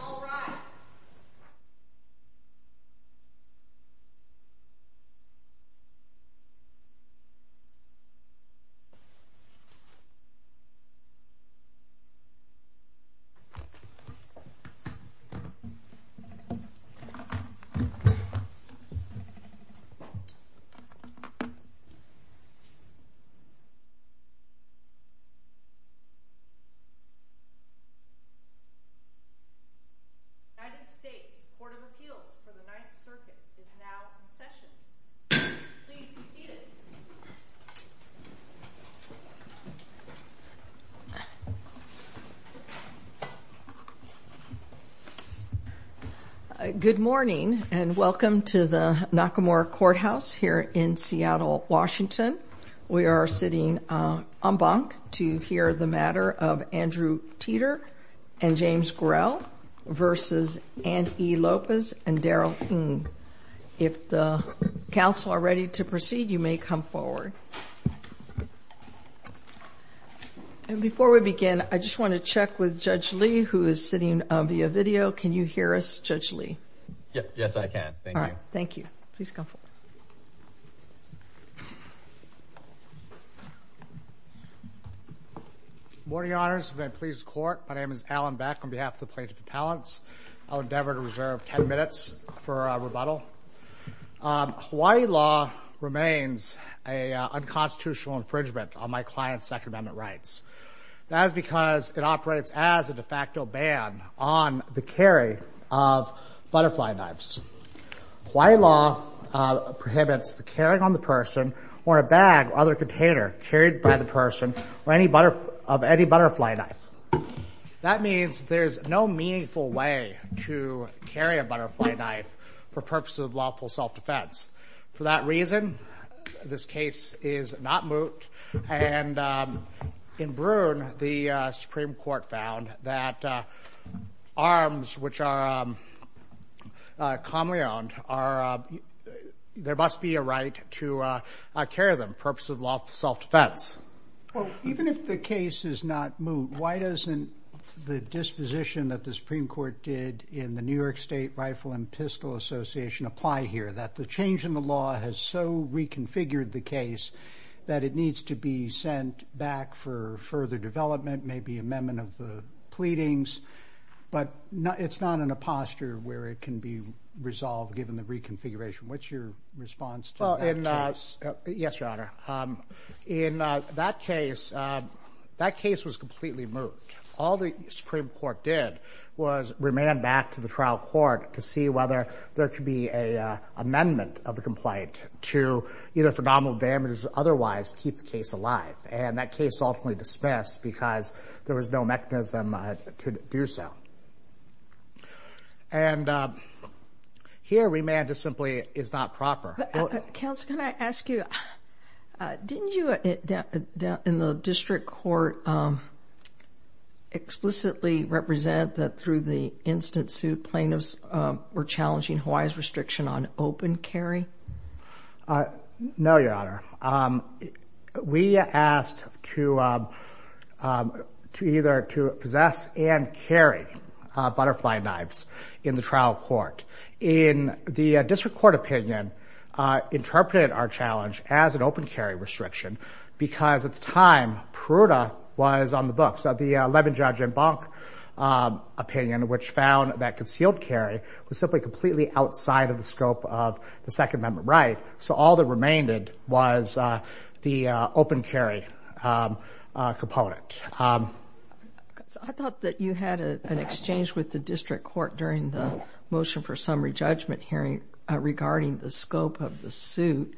All rise. The United States Court of Appeals for the Ninth Circuit is now in session. Please be seated. Good morning and welcome to the Nakamura Courthouse here in Seattle, Washington. We are sitting en banc to hear the matter of Andrew Teter and James Grell v. Anne E. Lopez and Daryl Ng. If the counsel are ready to proceed, you may come forward. And before we begin, I just want to check with Judge Lee, who is sitting via video. Can you hear us, Judge Lee? Yes, I can. Thank you. All right. Thank you. Please come forward. Good morning, Your Honors. May it please the Court. My name is Alan Beck on behalf of the Plaintiff Appellants. I'll endeavor to reserve 10 minutes for rebuttal. Hawaii law remains an unconstitutional infringement on my client's Second Amendment rights. That is because it operates as a de facto ban on the carry of butterfly knives. Hawaii law prohibits the carrying on the person or a bag or other container carried by the person of any butterfly knife. That means there is no meaningful way to carry a butterfly knife for purposes of lawful self-defense. For that reason, this case is not moot. And in Brune, the Supreme Court found that arms, which are commonly owned, there must be a right to carry them for purposes of lawful self-defense. Well, even if the case is not moot, why doesn't the disposition that the Supreme Court did in the New York State Rifle and Pistol Association apply here, that the change in the law has so reconfigured the case that it needs to be sent back for further development, maybe amendment of the pleadings, but it's not in a posture where it can be resolved given the reconfiguration. What's your response to that case? Yes, Your Honor. In that case, that case was completely moot. All the Supreme Court did was remand back to the trial court to see whether there could be an amendment of the complaint to, either for nominal damages or otherwise, keep the case alive. And that case ultimately dismissed because there was no mechanism to do so. And here, remand simply is not proper. Counsel, can I ask you, didn't you, in the district court, explicitly represent that through the instant suit, plaintiffs were challenging Hawaii's restriction on open carry? No, Your Honor. We asked to either to possess and carry butterfly knives in the trial court. And the district court opinion interpreted our challenge as an open carry restriction because at the time, Peruta was on the books. The Levin, Judge, and Bonk opinion, which found that concealed carry was simply completely outside of the scope of the Second Amendment right. So all that remained was the open carry component. I thought that you had an exchange with the district court during the motion for summary judgment hearing regarding the scope of the suit.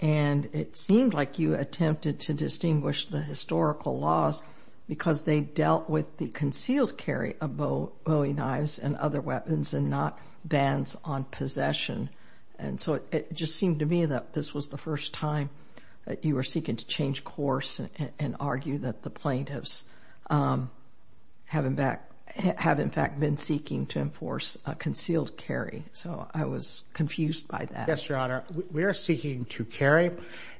And it seemed like you attempted to distinguish the historical laws because they dealt with the concealed carry of bowing knives and other weapons and not bans on possession. And so it just seemed to me that this was the first time that you were seeking to change course and argue that the plaintiffs have in fact been seeking to enforce a concealed carry. So I was confused by that. Yes, Your Honor. We are seeking to carry.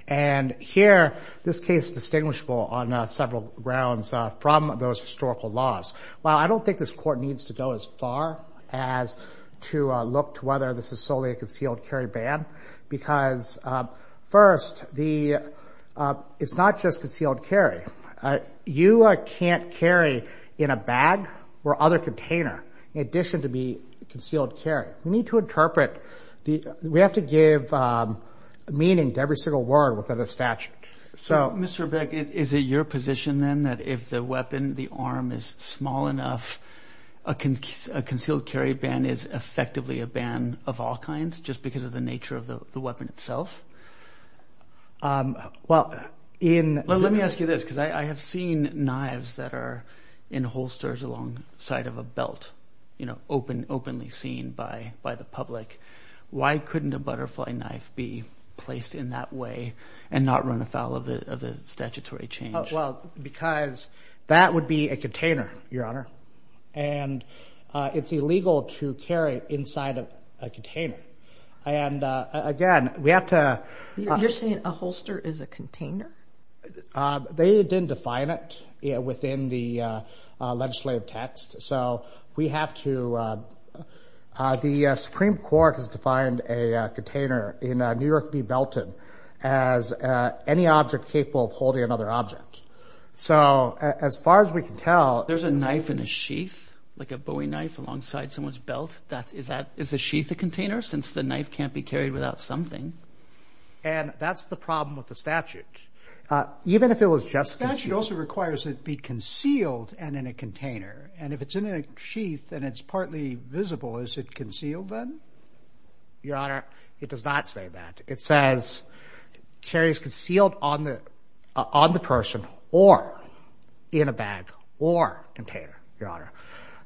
And here, this case is distinguishable on several grounds from those historical laws. While I don't think this court needs to go as far as to look to whether this is solely a concealed carry ban, because first, it's not just concealed carry. You can't carry in a bag or other container in addition to be concealed carry. We need to interpret. We have to give meaning to every single word within a statute. So, Mr. Beckett, is it your position then that if the weapon, the arm is small enough, a concealed carry ban is effectively a ban of all kinds just because of the nature of the weapon itself? Well, let me ask you this, because I have seen knives that are in holsters alongside of a belt, you know, openly seen by the public. Why couldn't a butterfly knife be placed in that way and not run afoul of the statutory change? Well, because that would be a container, Your Honor. And it's illegal to carry inside of a container. And again, we have to. You're saying a holster is a container? They didn't define it within the legislative text. So we have to. The Supreme Court has defined a container in New York v. Belton as any object capable of holding another object. So as far as we can tell. There's a knife in a sheath, like a Bowie knife alongside someone's belt. Is a sheath a container since the knife can't be carried without something? And that's the problem with the statute. Even if it was just concealed? The statute also requires it be concealed and in a container. And if it's in a sheath and it's partly visible, is it concealed then? Your Honor, it does not say that. It says carries concealed on the person or in a bag or container, Your Honor.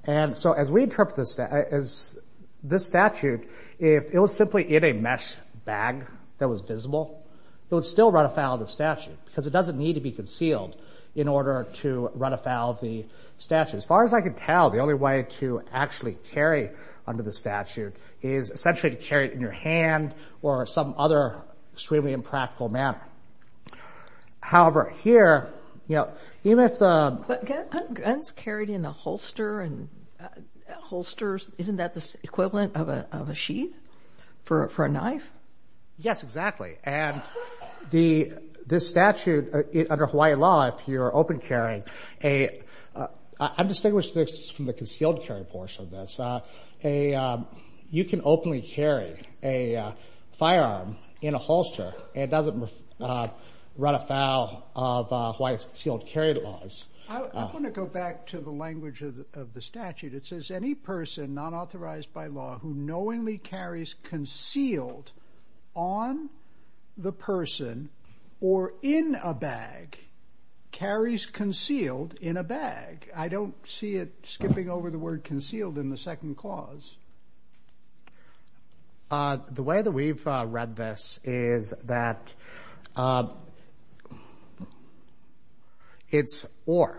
And so as we interpret this statute, if it was simply in a mesh bag that was visible, it would still run afoul of the statute. Because it doesn't need to be concealed in order to run afoul of the statute. As far as I can tell, the only way to actually carry under the statute is essentially to carry it in your hand or some other extremely impractical manner. However, here, even if the... Guns carried in a holster and holsters, isn't that the equivalent of a sheath for a knife? Yes, exactly. And this statute, under Hawaii law, if you're open carrying, I distinguish this from the concealed carry portion of this. You can openly carry a firearm in a holster and it doesn't run afoul of Hawaii's concealed carry laws. I want to go back to the language of the statute. It says any person not authorized by law who knowingly carries concealed on the person or in a bag carries concealed in a bag. I don't see it skipping over the word concealed in the second clause. The way that we've read this is that it's or.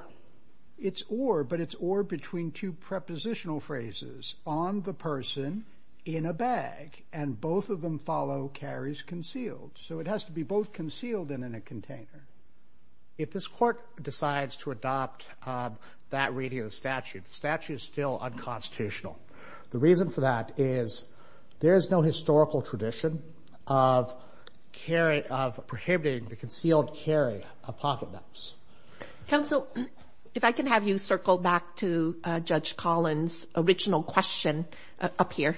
It's or, but it's or between two prepositional phrases. On the person, in a bag, and both of them follow carries concealed. So it has to be both concealed and in a container. If this court decides to adopt that reading of the statute, the statute is still unconstitutional. The reason for that is there is no historical tradition of carry, of prohibiting the concealed carry of pocket knives. Counsel, if I can have you circle back to Judge Collins' original question up here.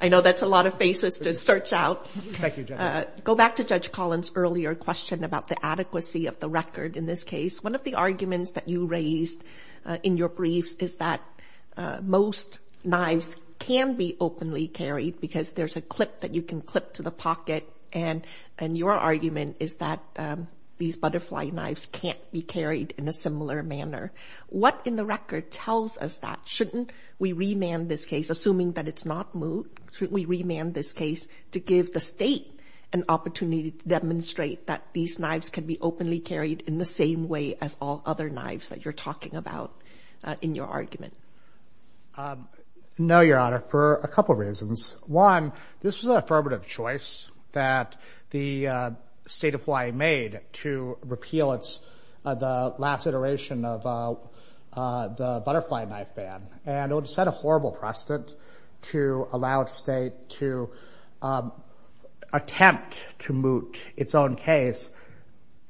I know that's a lot of faces to search out. Thank you, Judge. Go back to Judge Collins' earlier question about the adequacy of the record in this case. One of the arguments that you raised in your briefs is that most knives can be openly carried because there's a clip that you can clip to the pocket. And your argument is that these butterfly knives can't be carried in a similar manner. What in the record tells us that? Shouldn't we remand this case, assuming that it's not moved? Shouldn't we remand this case to give the state an opportunity to demonstrate that these knives can be openly carried in the same way as all other knives that you're talking about in your argument? No, Your Honor, for a couple reasons. One, this was an affirmative choice that the State of Hawaii made to repeal the last iteration of the butterfly knife ban. And it would have set a horrible precedent to allow a state to attempt to moot its own case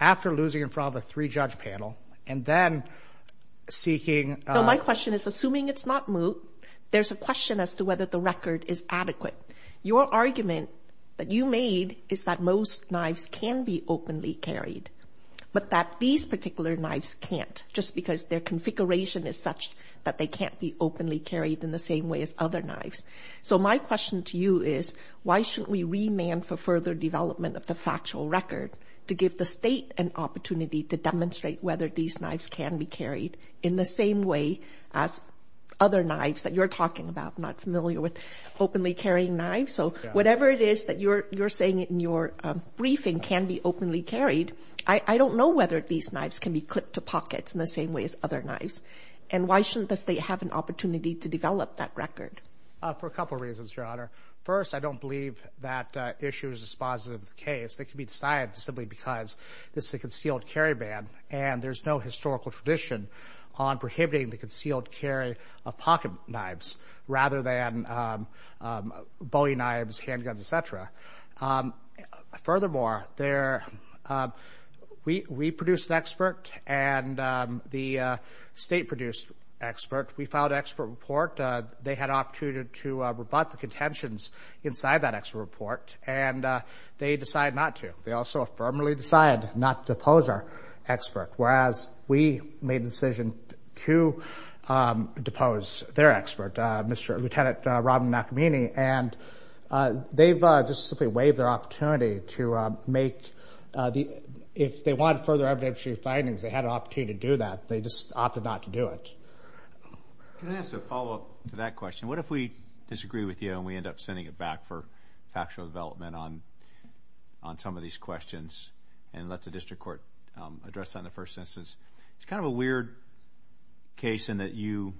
after losing in front of a three-judge panel and then seeking— No, my question is, assuming it's not moot, there's a question as to whether the record is adequate. Your argument that you made is that most knives can be openly carried but that these particular knives can't, just because their configuration is such that they can't be openly carried in the same way as other knives. So my question to you is, why shouldn't we remand for further development of the factual record to give the state an opportunity to demonstrate whether these knives can be carried in the same way as other knives that you're talking about? I'm not familiar with openly carrying knives, so whatever it is that you're saying in your briefing can be openly carried, I don't know whether these knives can be clipped to pockets in the same way as other knives. And why shouldn't the state have an opportunity to develop that record? For a couple reasons, Your Honor. First, I don't believe that issue is dispositive of the case. They can be decided simply because this is a concealed carry ban, and there's no historical tradition on prohibiting the concealed carry of pocket knives rather than bowie knives, handguns, et cetera. Furthermore, we produced an expert, and the state produced an expert. We filed an expert report. They had an opportunity to rebut the contentions inside that expert report, and they decided not to. They also affirmatively decided not to depose our expert, whereas we made the decision to depose their expert, Lieutenant Robin Nakamini, and they've just simply waived their opportunity to make the – Can I ask a follow-up to that question? What if we disagree with you and we end up sending it back for factual development on some of these questions and let the district court address that in the first instance? It's kind of a weird case in that you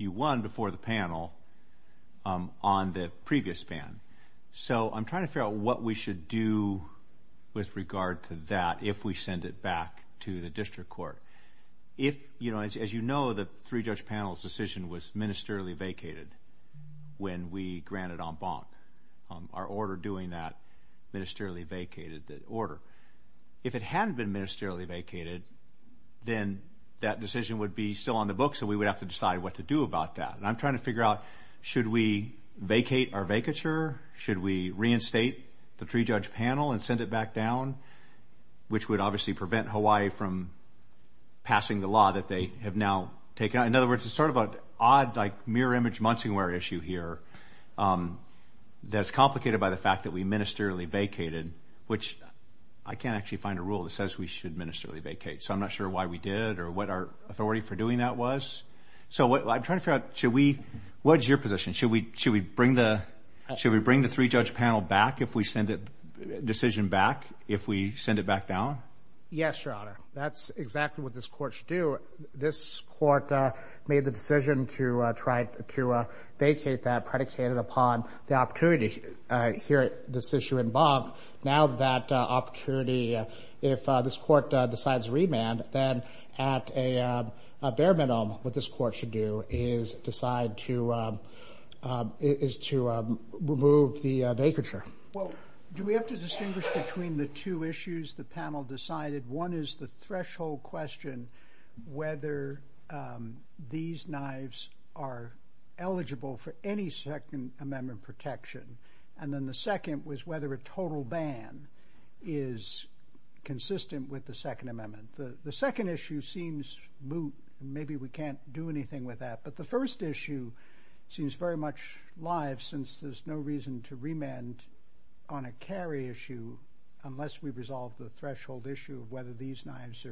won before the panel on the previous ban. So I'm trying to figure out what we should do with regard to that if we send it back to the district court. As you know, the three-judge panel's decision was ministerially vacated when we granted en banc, our order doing that ministerially vacated the order. If it hadn't been ministerially vacated, then that decision would be still on the books, and we would have to decide what to do about that. And I'm trying to figure out should we vacate our vacature, should we reinstate the three-judge panel and send it back down, which would obviously prevent Hawaii from passing the law that they have now taken. In other words, it's sort of an odd, like, mirror-image Munsingware issue here that's complicated by the fact that we ministerially vacated, which I can't actually find a rule that says we should ministerially vacate, so I'm not sure why we did or what our authority for doing that was. So I'm trying to figure out should we – what is your position? Should we bring the three-judge panel back if we send it – decision back, if we send it back down? Yes, Your Honor. That's exactly what this court should do. This court made the decision to try to vacate that predicated upon the opportunity here, this issue en banc. Now that opportunity, if this court decides remand, then at a bare minimum what this court should do is decide to – is to remove the vacature. Well, do we have to distinguish between the two issues the panel decided? One is the threshold question, whether these knives are eligible for any Second Amendment protection, and then the second was whether a total ban is consistent with the Second Amendment. The second issue seems moot. Maybe we can't do anything with that, but the first issue seems very much live since there's no reason to remand on a carry issue unless we resolve the threshold issue of whether these knives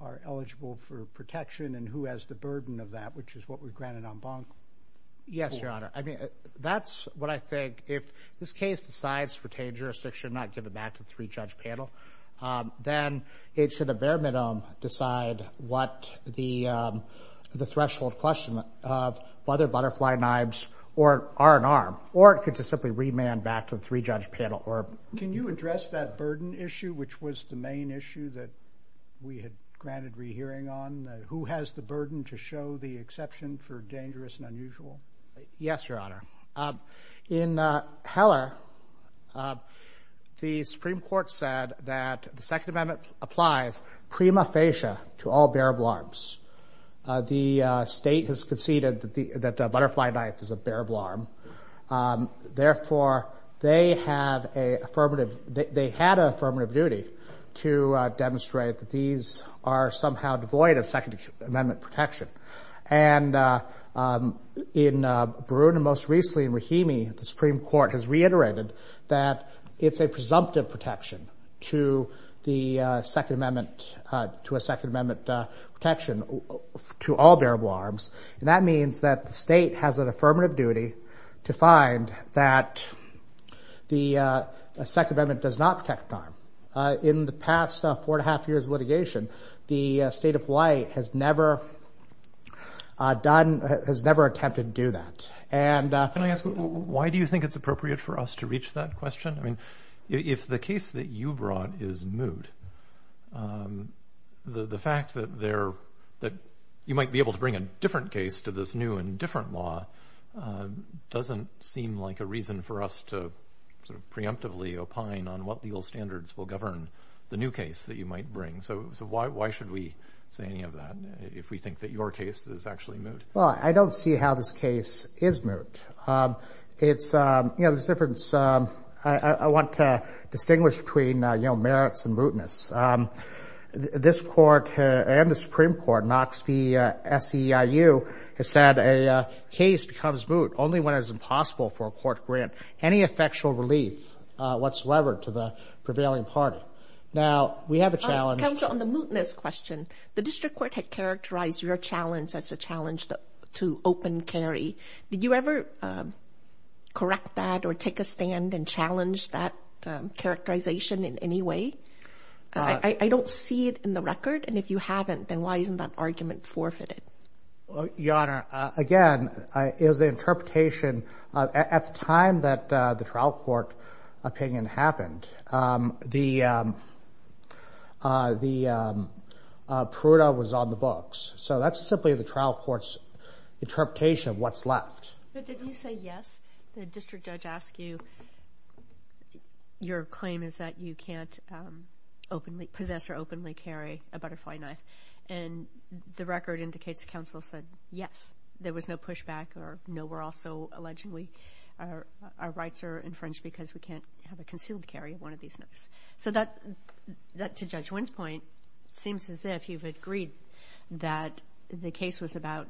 are eligible for protection and who has the burden of that, which is what we granted en banc. Yes, Your Honor. I mean, that's what I think. If this case decides to retain jurisdiction, not give it back to the three-judge panel, then it should at bare minimum decide what the threshold question of whether butterfly knives are an arm, or it could just simply remand back to the three-judge panel. Can you address that burden issue, which was the main issue that we had granted rehearing on? Who has the burden to show the exception for dangerous and unusual? Yes, Your Honor. In Heller, the Supreme Court said that the Second Amendment applies prima facie to all bearable arms. The State has conceded that the butterfly knife is a bearable arm. Therefore, they had an affirmative duty to demonstrate that these are somehow devoid of Second Amendment protection. In Baroon and most recently in Rahimi, the Supreme Court has reiterated that it's a presumptive protection to a Second Amendment protection to all bearable arms. That means that the State has an affirmative duty to find that the Second Amendment does not protect an arm. In the past four and a half years of litigation, the State of Hawaii has never attempted to do that. Can I ask, why do you think it's appropriate for us to reach that question? If the case that you brought is moot, the fact that you might be able to bring a different case to this new and different law doesn't seem like a reason for us to preemptively opine on what legal standards will govern the new case that you might bring. Why should we say any of that if we think that your case is actually moot? I don't see how this case is moot. There's a difference. I want to distinguish between merits and mootness. This Court and the Supreme Court, Knox v. SEIU, has said a case becomes moot only when it is impossible for a court to grant any effectual relief whatsoever to the prevailing party. Now, we have a challenge. Counsel, on the mootness question, the District Court had characterized your challenge as a challenge to open carry. Did you ever correct that or take a stand and challenge that characterization in any way? I don't see it in the record. And if you haven't, then why isn't that argument forfeited? Your Honor, again, it was an interpretation. At the time that the trial court opinion happened, the pruda was on the books. So that's simply the trial court's interpretation of what's left. But didn't you say yes? The district judge asked you, your claim is that you can't possess or openly carry a butterfly knife. And the record indicates the counsel said yes. There was no pushback or no, we're also allegedly, our rights are infringed because we can't have a concealed carry of one of these knives. So that, to Judge Wynn's point, seems as if you've agreed that the case was about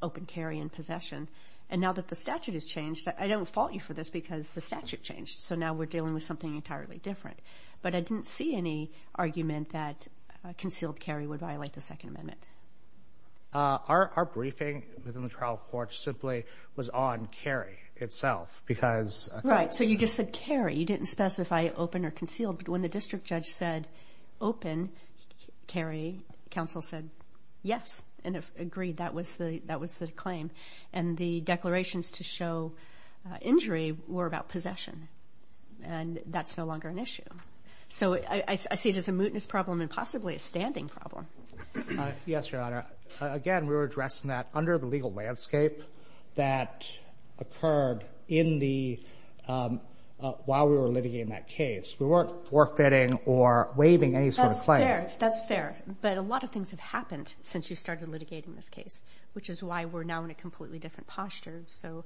open carry and possession. And now that the statute has changed, I don't fault you for this because the statute changed. So now we're dealing with something entirely different. But I didn't see any argument that a concealed carry would violate the Second Amendment. Our briefing within the trial court simply was on carry itself because Right, so you just said carry. You didn't specify open or concealed. But when the district judge said open carry, counsel said yes and agreed that was the claim. And the declarations to show injury were about possession. And that's no longer an issue. So I see it as a mootness problem and possibly a standing problem. Yes, your Honor. Again, we were addressing that under the legal landscape that occurred while we were litigating that case. We weren't forfeiting or waiving any sort of claim. That's fair. But a lot of things have happened since you started litigating this case, which is why we're now in a completely different posture. So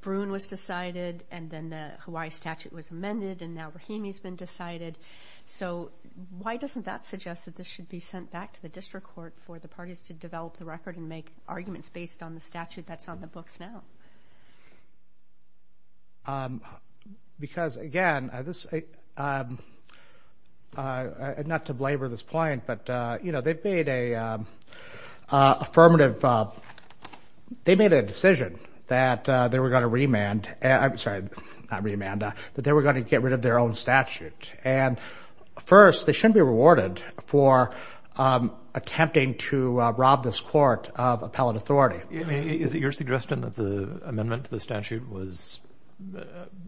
Bruin was decided and then the Hawaii statute was amended and now Rahimi's been decided. So why doesn't that suggest that this should be sent back to the district court for the parties to develop the record and make arguments based on the statute that's on the books now? Because, again, not to blabber this point, but, you know, they've made a affirmative. They made a decision that they were going to remand. Sorry, not remand. That they were going to get rid of their own statute. And, first, they shouldn't be rewarded for attempting to rob this court of appellate authority. Is it your suggestion that the amendment to the statute was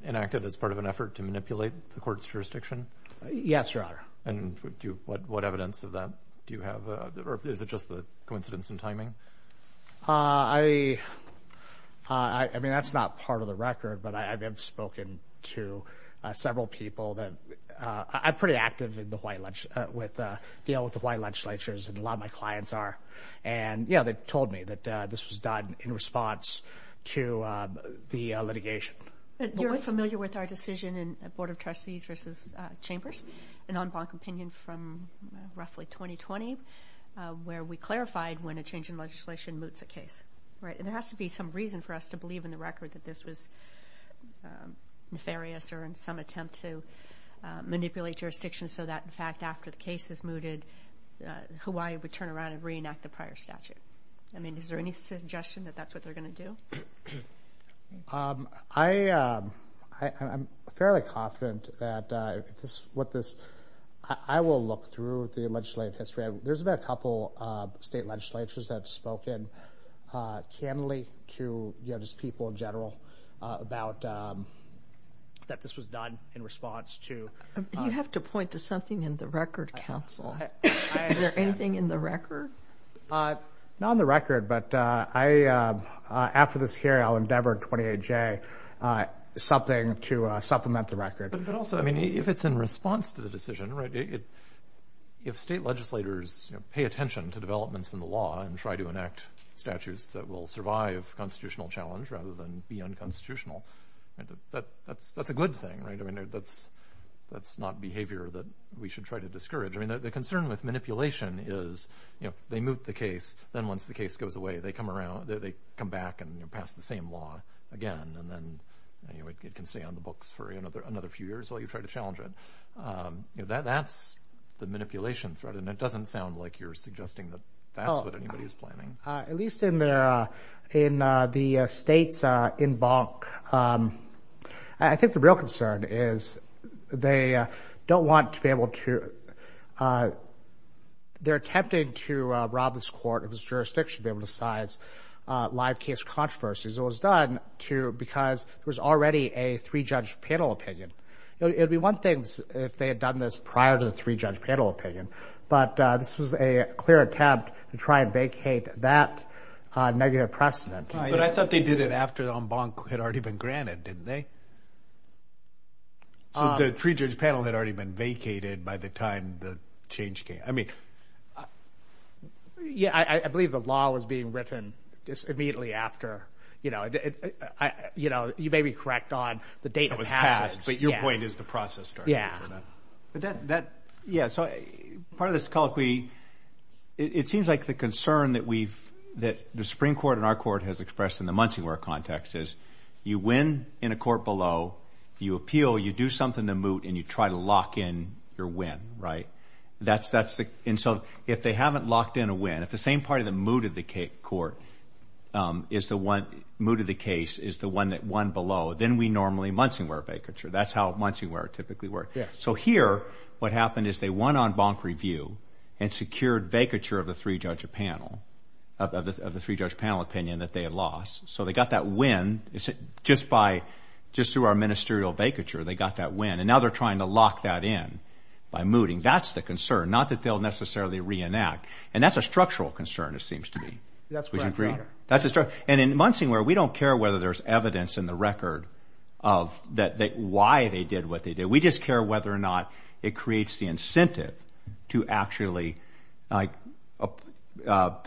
enacted as part of an effort to manipulate the court's jurisdiction? Yes, your Honor. And what evidence of that do you have? Or is it just a coincidence in timing? I mean, that's not part of the record, but I have spoken to several people. I'm pretty active in dealing with the Hawaii legislatures, and a lot of my clients are. And, yeah, they told me that this was done in response to the litigation. You're familiar with our decision in Board of Trustees versus Chambers, an en banc opinion from roughly 2020, where we clarified when a change in legislation moots a case, right? And there has to be some reason for us to believe in the record that this was nefarious or in some attempt to manipulate jurisdiction so that, in fact, after the case is mooted, Hawaii would turn around and reenact the prior statute. I mean, is there any suggestion that that's what they're going to do? I'm fairly confident that what this ‑‑ I will look through the legislative history. There's been a couple of state legislatures that have spoken candidly to people in general about that this was done in response to ‑‑ You have to point to something in the record, counsel. Is there anything in the record? Not in the record, but after this hearing, I'll endeavor, 28J, something to supplement the record. But also, I mean, if it's in response to the decision, right, if state legislators pay attention to developments in the law and try to enact statutes that will survive constitutional challenge rather than be unconstitutional, that's a good thing, right? I mean, that's not behavior that we should try to discourage. I mean, the concern with manipulation is, you know, they moot the case, then once the case goes away, they come back and pass the same law again, and then it can stay on the books for another few years while you try to challenge it. That's the manipulation threat, and it doesn't sound like you're suggesting that that's what anybody is planning. At least in the states in bunk, I think the real concern is they don't want to be able to, they're attempting to rob this court, this jurisdiction, to be able to size live case controversies. It was done because there was already a three-judge panel opinion. It would be one thing if they had done this prior to the three-judge panel opinion, but this was a clear attempt to try and vacate that negative precedent. But I thought they did it after the en banc had already been granted, didn't they? So the three-judge panel had already been vacated by the time the change came. Yeah, I believe the law was being written immediately after. You may be correct on the date of passage. It was passed, but your point is the process started. Yeah, so part of this colloquy, it seems like the concern that we've, that the Supreme Court and our court has expressed in the Munsingware context is you win in a court below, you appeal, you do something to moot, and you try to lock in your win, right? And so if they haven't locked in a win, if the same party that mooted the case is the one that won below, then we normally Munsingware vacature. That's how Munsingware typically works. So here what happened is they won en banc review and secured vacature of the three-judge panel opinion that they had lost. So they got that win just through our ministerial vacature. They got that win. And now they're trying to lock that in by mooting. That's the concern, not that they'll necessarily reenact. And that's a structural concern, it seems to me. That's correct, Your Honor. And in Munsingware, we don't care whether there's evidence in the record of why they did what they did. We just care whether or not it creates the incentive to actually moot out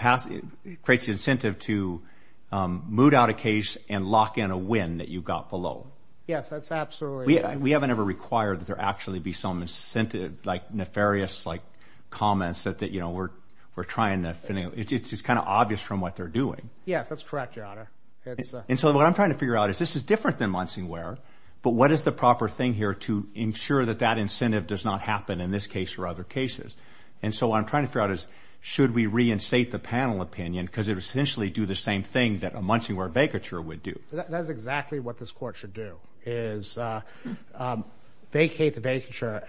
a case and lock in a win that you got below. Yes, that's absolutely right. We haven't ever required that there actually be some incentive, like nefarious comments that we're trying to finish. It's just kind of obvious from what they're doing. Yes, that's correct, Your Honor. And so what I'm trying to figure out is this is different than Munsingware, but what is the proper thing here to ensure that that incentive does not happen in this case or other cases? And so what I'm trying to figure out is should we reinstate the panel opinion because it would essentially do the same thing that a Munsingware vacature would do. That is exactly what this court should do, is vacate the vacature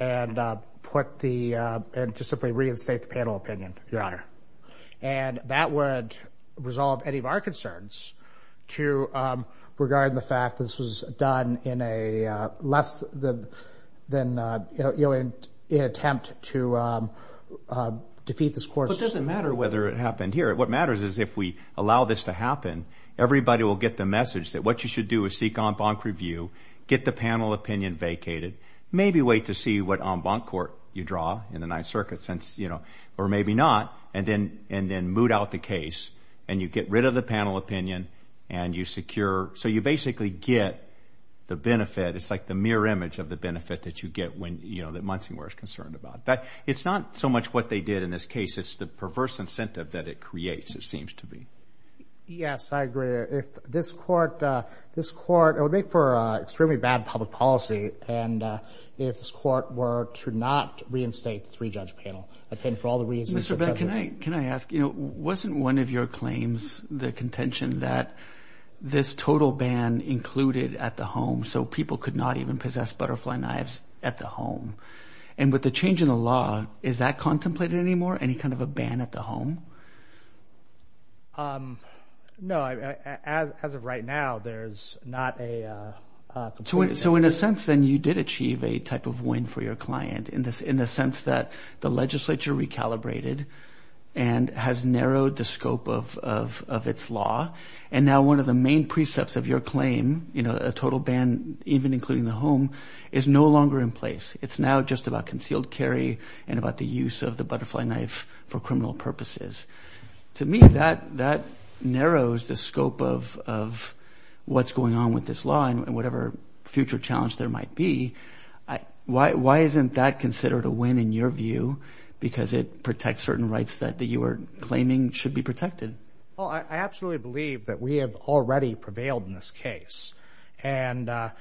and just simply reinstate the panel opinion, Your Honor. And that would resolve any of our concerns to regard the fact that this was done in an attempt to defeat this court. It doesn't matter whether it happened here. What matters is if we allow this to happen, everybody will get the message that what you should do is seek en banc review, get the panel opinion vacated, maybe wait to see what en banc court you draw in the Ninth Circuit, or maybe not, and then moot out the case and you get rid of the panel opinion and you secure. So you basically get the benefit. It's like the mirror image of the benefit that you get when Munsingware is concerned about. It's not so much what they did in this case. It's the perverse incentive that it creates, it seems to be. Yes, I agree. If this court would make for extremely bad public policy and if this court were to not reinstate the three-judge panel, I'd pay for all the reasons. Mr. Beck, can I ask? Wasn't one of your claims the contention that this total ban included at the home so people could not even possess butterfly knives at the home? And with the change in the law, is that contemplated anymore, any kind of a ban at the home? No. As of right now, there's not a complete ban. So in a sense, then, you did achieve a type of win for your client in the sense that the legislature recalibrated and has narrowed the scope of its law. And now one of the main precepts of your claim, a total ban even including the home, is no longer in place. It's now just about concealed carry and about the use of the butterfly knife for criminal purposes. To me, that narrows the scope of what's going on with this law and whatever future challenge there might be. Why isn't that considered a win in your view because it protects certain rights that you are claiming should be protected? I absolutely believe that we have already prevailed in this case and that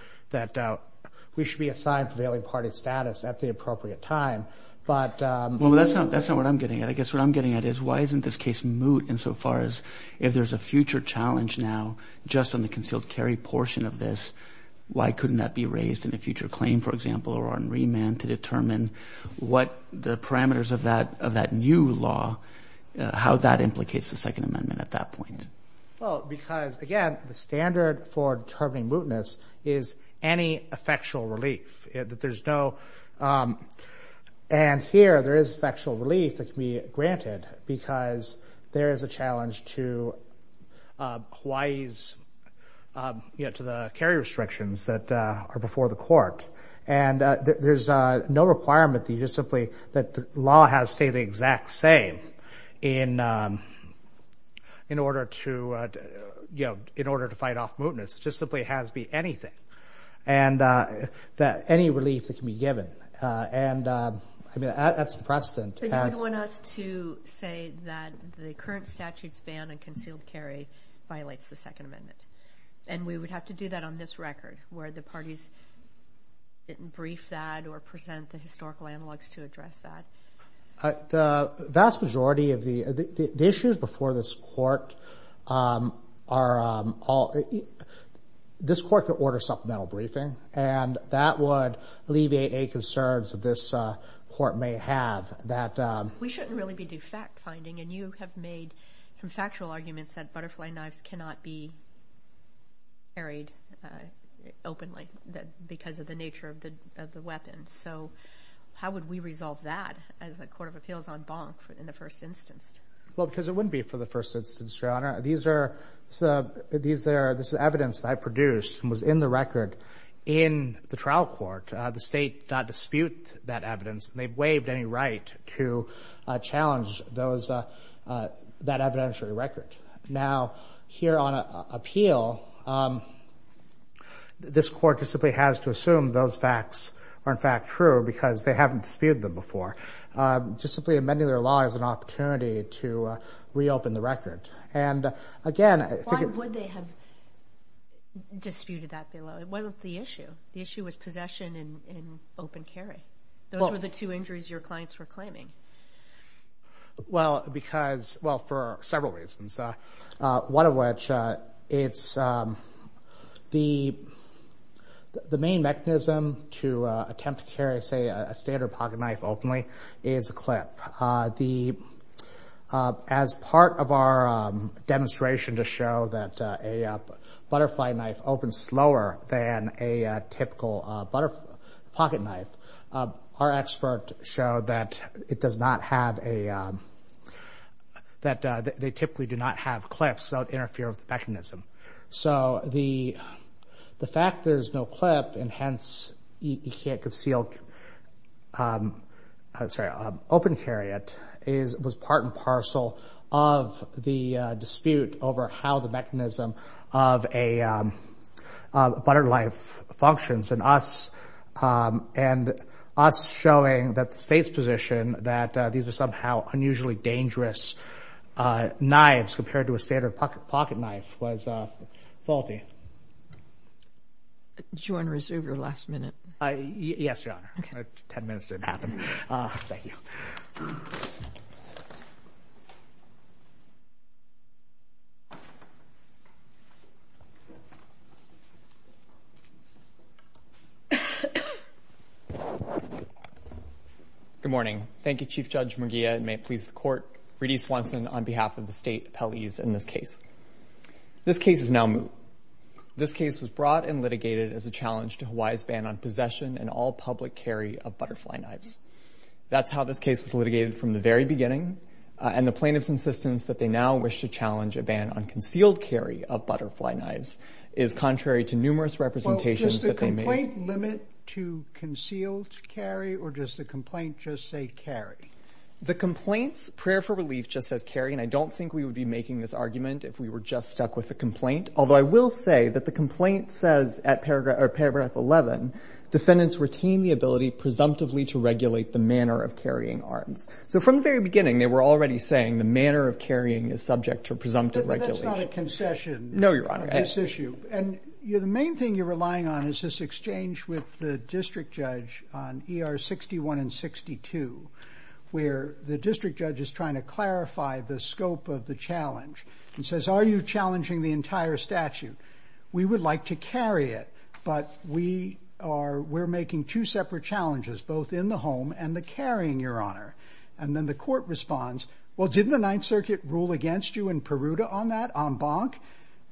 we should be assigned prevailing party status at the appropriate time. Well, that's not what I'm getting at. I guess what I'm getting at is why isn't this case moot insofar as if there's a future challenge now just on the concealed carry portion of this, why couldn't that be raised in a future claim, for example, or on remand to determine what the parameters of that new law, how that implicates the Second Amendment at that point? Well, because, again, the standard for determining mootness is any effectual relief. And here there is effectual relief that can be granted because there is a challenge to Hawaii's carry restrictions that are before the court. And there's no requirement that the law has to stay the exact same in order to fight off mootness. It just simply has to be anything, any relief that can be given. And that's the precedent. So you would want us to say that the current statute's ban on concealed carry violates the Second Amendment, and we would have to do that on this record where the parties didn't brief that or present the historical analogs to address that? The vast majority of the issues before this court are all... This court could order supplemental briefing, and that would alleviate any concerns that this court may have that... We shouldn't really be de facto finding, and you have made some factual arguments that butterfly knives cannot be carried openly because of the nature of the weapon. So how would we resolve that as a court of appeals en banc in the first instance? Well, because it wouldn't be for the first instance, Your Honor. This is evidence that I produced and was in the record in the trial court. The state disputed that evidence, and they waived any right to challenge that evidentiary record. Now, here on appeal, this court just simply has to assume those facts are in fact true because they haven't disputed them before. Just simply amending their law is an opportunity to reopen the record. And again... Why would they have disputed that below? It wasn't the issue. The issue was possession and open carry. Those were the two injuries your clients were claiming. Well, because... Well, for several reasons, one of which is the main mechanism to attempt to carry, say, a standard pocket knife openly is a clip. As part of our demonstration to show that a butterfly knife opens slower than a typical pocket knife, our expert showed that it does not have a... that they typically do not have clips, so it interferes with the mechanism. So the fact there's no clip, and hence you can't conceal... I'm sorry, open carry it, was part and parcel of the dispute over how the mechanism of a butter knife functions, and us showing that the state's position that these are somehow unusually dangerous knives compared to a standard pocket knife was faulty. Did you want to resume your last minute? Yes, Your Honor. Ten minutes didn't happen. Thank you. Good morning. Thank you, Chief Judge Murguia, and may it please the Court, Reedy Swanson on behalf of the state appellees in this case. This case is now moved. This case was brought and litigated as a challenge to Hawaii's ban on possession and all public carry of butterfly knives. That's how this case was litigated from the very beginning, and the plaintiffs' insistence that they now wish to challenge a ban on concealed carry of butterfly knives is contrary to numerous representations... Well, does the complaint limit to concealed carry, or does the complaint just say carry? The complaint's prayer for relief just says carry, and I don't think we would be making this argument if we were just stuck with the complaint, although I will say that the complaint says, at paragraph 11, defendants retain the ability presumptively to regulate the manner of carrying arms. So from the very beginning, they were already saying the manner of carrying is subject to presumptive regulation. But that's not a concession... No, Your Honor. ...to this issue. And the main thing you're relying on is this exchange with the district judge on ER 61 and 62, where the district judge is trying to clarify the scope of the challenge. He says, are you challenging the entire statute? We would like to carry it, but we are making two separate challenges, both in the home and the carrying, Your Honor. And then the court responds, well, didn't the Ninth Circuit rule against you in Peruta on that, en banc?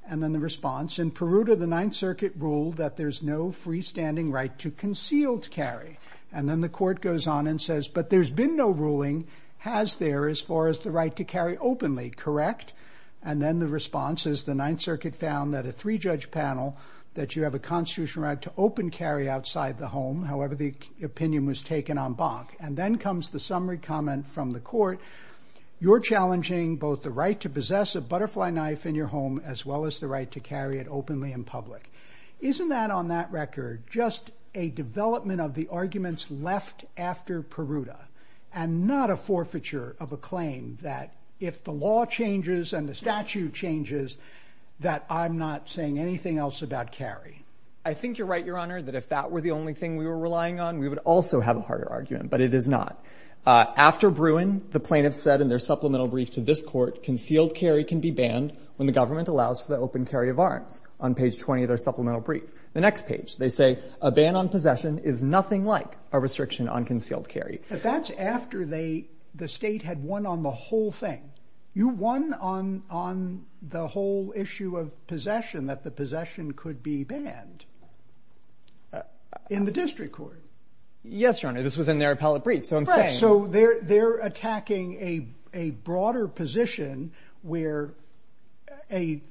And then the response, in Peruta, the Ninth Circuit ruled that there's no freestanding right to concealed carry. And then the court goes on and says, but there's been no ruling, has there, as far as the right to carry openly, correct? And then the response is, the Ninth Circuit found that a three-judge panel, that you have a constitutional right to open carry outside the home, however the opinion was taken en banc. And then comes the summary comment from the court, you're challenging both the right to possess a butterfly knife in your home as well as the right to carry it openly in public. Isn't that, on that record, just a development of the arguments left after Peruta and not a forfeiture of a claim that if the law changes and the statute changes that I'm not saying anything else about carry? I think you're right, Your Honor, that if that were the only thing we were relying on, we would also have a harder argument, but it is not. After Bruin, the plaintiffs said in their supplemental brief to this court, concealed carry can be banned when the government allows for the open carry of arms, on page 20 of their supplemental brief. The next page, they say, a ban on possession is nothing like a restriction on concealed carry. But that's after the state had won on the whole thing. You won on the whole issue of possession, that the possession could be banned, in the district court. Yes, Your Honor, this was in their appellate brief. So they're attacking a broader position where a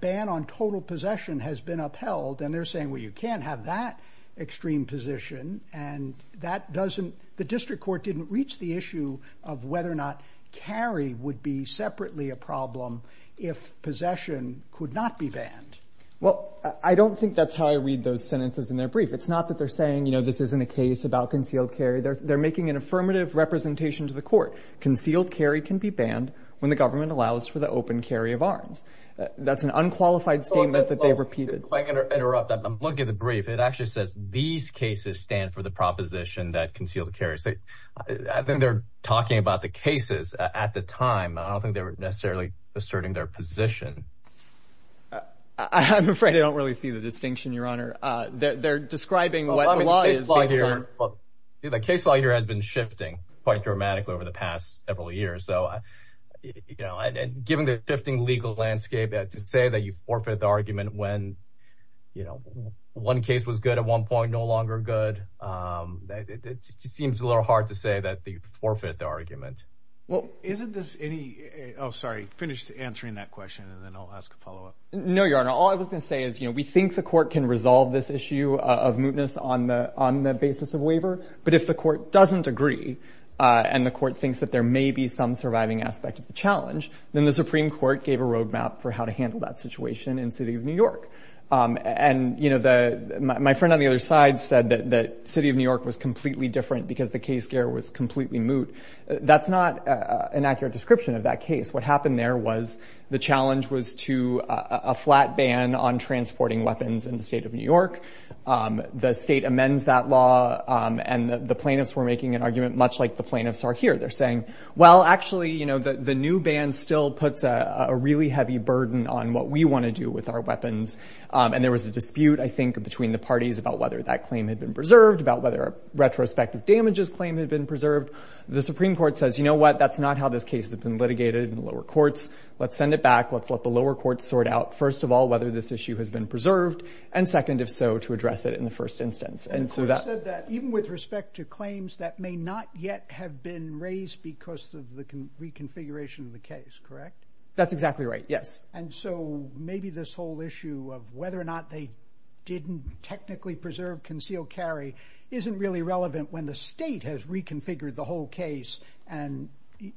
ban on total possession has been upheld, and they're saying, well, you can't have that extreme position, and the district court didn't reach the issue of whether or not carry would be separately a problem if possession could not be banned. Well, I don't think that's how I read those sentences in their brief. It's not that they're saying, you know, this isn't a case about concealed carry. They're making an affirmative representation to the court. Concealed carry can be banned when the government allows for the open carry of arms. That's an unqualified statement that they repeated. If I can interrupt, look at the brief. It actually says, these cases stand for the proposition that concealed carry is safe. I think they're talking about the cases at the time. I don't think they were necessarily asserting their position. I'm afraid I don't really see the distinction, Your Honor. They're describing what the law is based on. The case law here has been shifting quite dramatically over the past several years. So, you know, given the shifting legal landscape, to say that you forfeit the argument when, you know, one case was good at one point, no longer good, it seems a little hard to say that you forfeit the argument. Well, isn't this any... Oh, sorry, finish answering that question, and then I'll ask a follow-up. No, Your Honor. All I was going to say is, you know, we think the court can resolve this issue of mootness on the basis of waiver. But if the court doesn't agree, and the court thinks that there may be some surviving aspect of the challenge, then the Supreme Court gave a roadmap for how to handle that situation in the city of New York. And, you know, my friend on the other side said that the city of New York was completely different because the case gear was completely moot. That's not an accurate description of that case. What happened there was the challenge was to a flat ban on transporting weapons in the state of New York. The state amends that law, and the plaintiffs were making an argument much like the plaintiffs are here. They're saying, well, actually, you know, the new ban still puts a really heavy burden on what we want to do with our weapons. And there was a dispute, I think, between the parties about whether that claim had been preserved, about whether a retrospective damages claim had been preserved. The Supreme Court says, you know what? That's not how this case has been litigated in the lower courts. Let's send it back. Let's let the lower courts sort out, first of all, whether this issue has been preserved, and second, if so, to address it in the first instance. And so that... The court said that even with respect to claims that may not yet have been raised because of the reconfiguration of the case, correct? That's exactly right, yes. And so maybe this whole issue of whether or not they didn't technically preserve concealed carry isn't really relevant when the state has reconfigured the whole case, and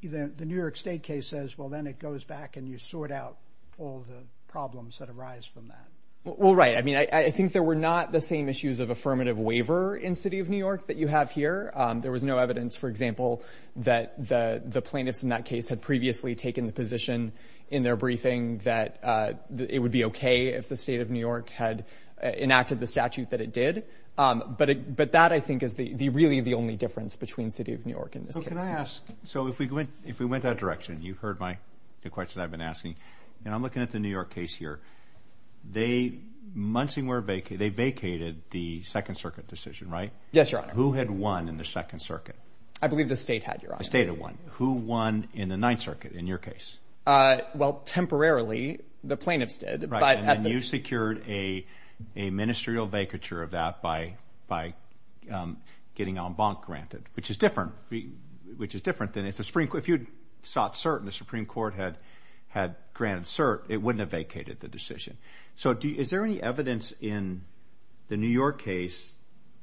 the New York State case says, well, then it goes back, and you sort out all the problems that arise from that. Well, right. I mean, I think there were not the same issues of affirmative waiver in the city of New York that you have here. There was no evidence, for example, that the plaintiffs in that case had previously taken the position in their briefing that it would be okay if the state of New York had enacted the statute that it did. But that, I think, is really the only difference between the city of New York and this case. So can I ask... So if we went that direction, you've heard the questions I've been asking, and I'm looking at the New York case here. They vacated the Second Circuit decision, right? Yes, Your Honor. Who had won in the Second Circuit? I believe the state had, Your Honor. The state had won. Who won in the Ninth Circuit in your case? Well, temporarily, the plaintiffs did. And you secured a ministerial vacature of that by getting en banc granted, which is different than if you'd sought cert and the Supreme Court had granted cert, it wouldn't have vacated the decision. So is there any evidence in the New York case,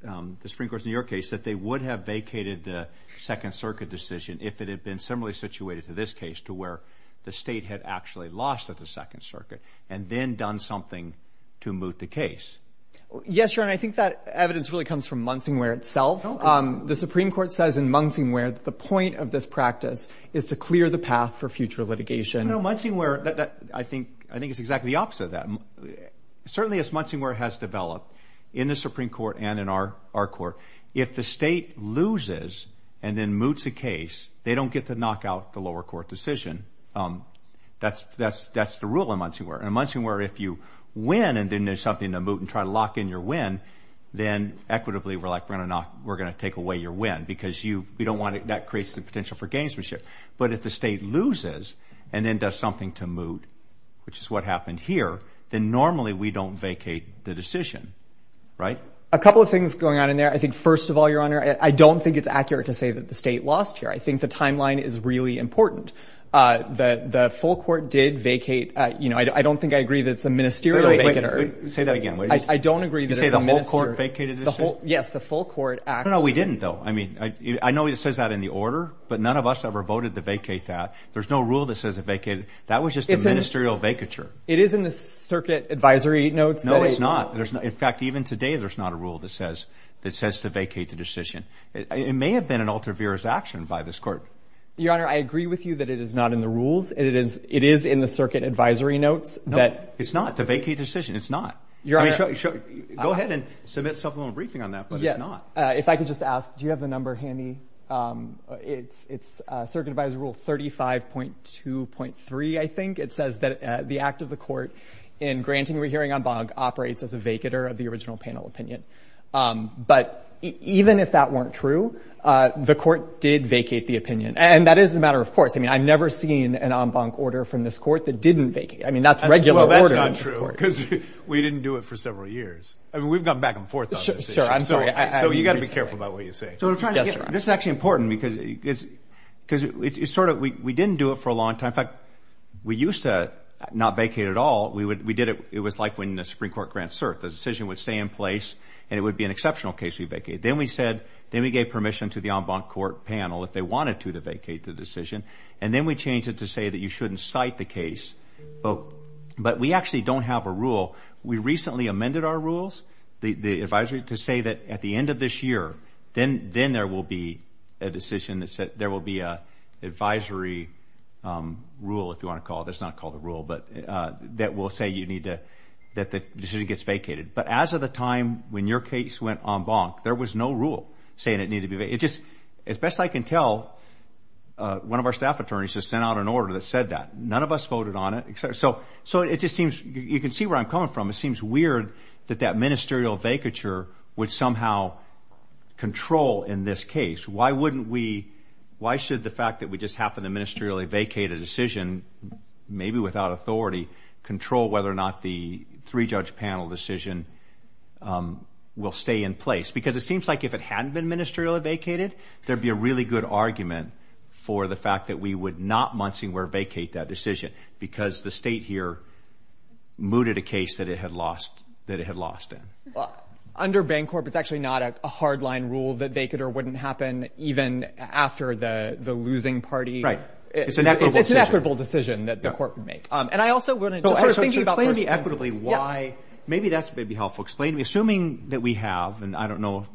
the Supreme Court's New York case, that they would have vacated the Second Circuit decision if it had been similarly situated to this case to where the state had actually lost at the Second Circuit and then done something to moot the case? Yes, Your Honor. I think that evidence really comes from Munsingware itself. The Supreme Court says in Munsingware that the point of this practice is to clear the path for future litigation. No, Munsingware, I think it's exactly the opposite of that. Certainly, as Munsingware has developed in the Supreme Court and in our court, if the state loses and then moots a case, they don't get to knock out the lower court decision. That's the rule in Munsingware. In Munsingware, if you win and then there's something to moot and try to lock in your win, then, equitably, we're going to take away your win because that creates the potential for gamesmanship. But if the state loses and then does something to moot, which is what happened here, then normally we don't vacate the decision, right? A couple of things going on in there. I think, first of all, Your Honor, I don't think it's accurate to say that the state lost here. I think the timeline is really important. The full court did vacate. I don't think I agree that it's a ministerial vacater. Say that again. I don't agree that it's a ministerial vacater. You say the whole court vacated the state? Yes, the full court actually. No, we didn't, though. I know it says that in the order, but none of us ever voted to vacate that. There's no rule that says it vacated. That was just a ministerial vacature. It is in the circuit advisory notes. No, it's not. In fact, even today there's not a rule that says to vacate the decision. It may have been an ultra-virus action by this court. Your Honor, I agree with you that it is not in the rules. It is in the circuit advisory notes. No, it's not. The vacate decision, it's not. I mean, go ahead and submit something on the briefing on that, but it's not. If I could just ask, do you have the number handy? It's circuit advisory rule 35.2.3, I think. It says that the act of the court in granting rehearing en banc operates as a vacater of the original panel opinion. But even if that weren't true, the court did vacate the opinion, and that is a matter of course. I mean, I've never seen an en banc order from this court that didn't vacate. I mean, that's regular order in this court. Well, that's not true because we didn't do it for several years. I mean, we've gone back and forth on this issue. Sure, I'm sorry. So you've got to be careful about what you say. Yes, sir. This is actually important because we didn't do it for a long time. In fact, we used to not vacate at all. We did it. It was like when the Supreme Court grants cert. The decision would stay in place, and it would be an exceptional case we vacate. Then we gave permission to the en banc court panel, if they wanted to, to vacate the decision, and then we changed it to say that you shouldn't cite the case. But we actually don't have a rule. We recently amended our rules, the advisory, to say that at the end of this year, then there will be a decision. There will be an advisory rule, if you want to call it. It's not called a rule, but that will say that the decision gets vacated. But as of the time when your case went en banc, there was no rule saying it needed to be vacated. It just, as best I can tell, one of our staff attorneys just sent out an order that said that. None of us voted on it. So it just seems, you can see where I'm coming from, it seems weird that that ministerial vacature would somehow control in this case. Why wouldn't we, why should the fact that we just happened to ministerially vacate a decision, maybe without authority, control whether or not the three-judge panel decision will stay in place? Because it seems like if it hadn't been ministerially vacated, there'd be a really good argument for the fact that we would not, Monsignor, vacate that decision, because the state here mooted a case that it had lost, that it had lost. Well, under Bancorp, it's actually not a hardline rule that they could or wouldn't happen, even after the losing party. It's an equitable decision that the court would make. And I also want to, explain to me equitably why, maybe that's maybe helpful. Explain to me, assuming that we have, and I don't know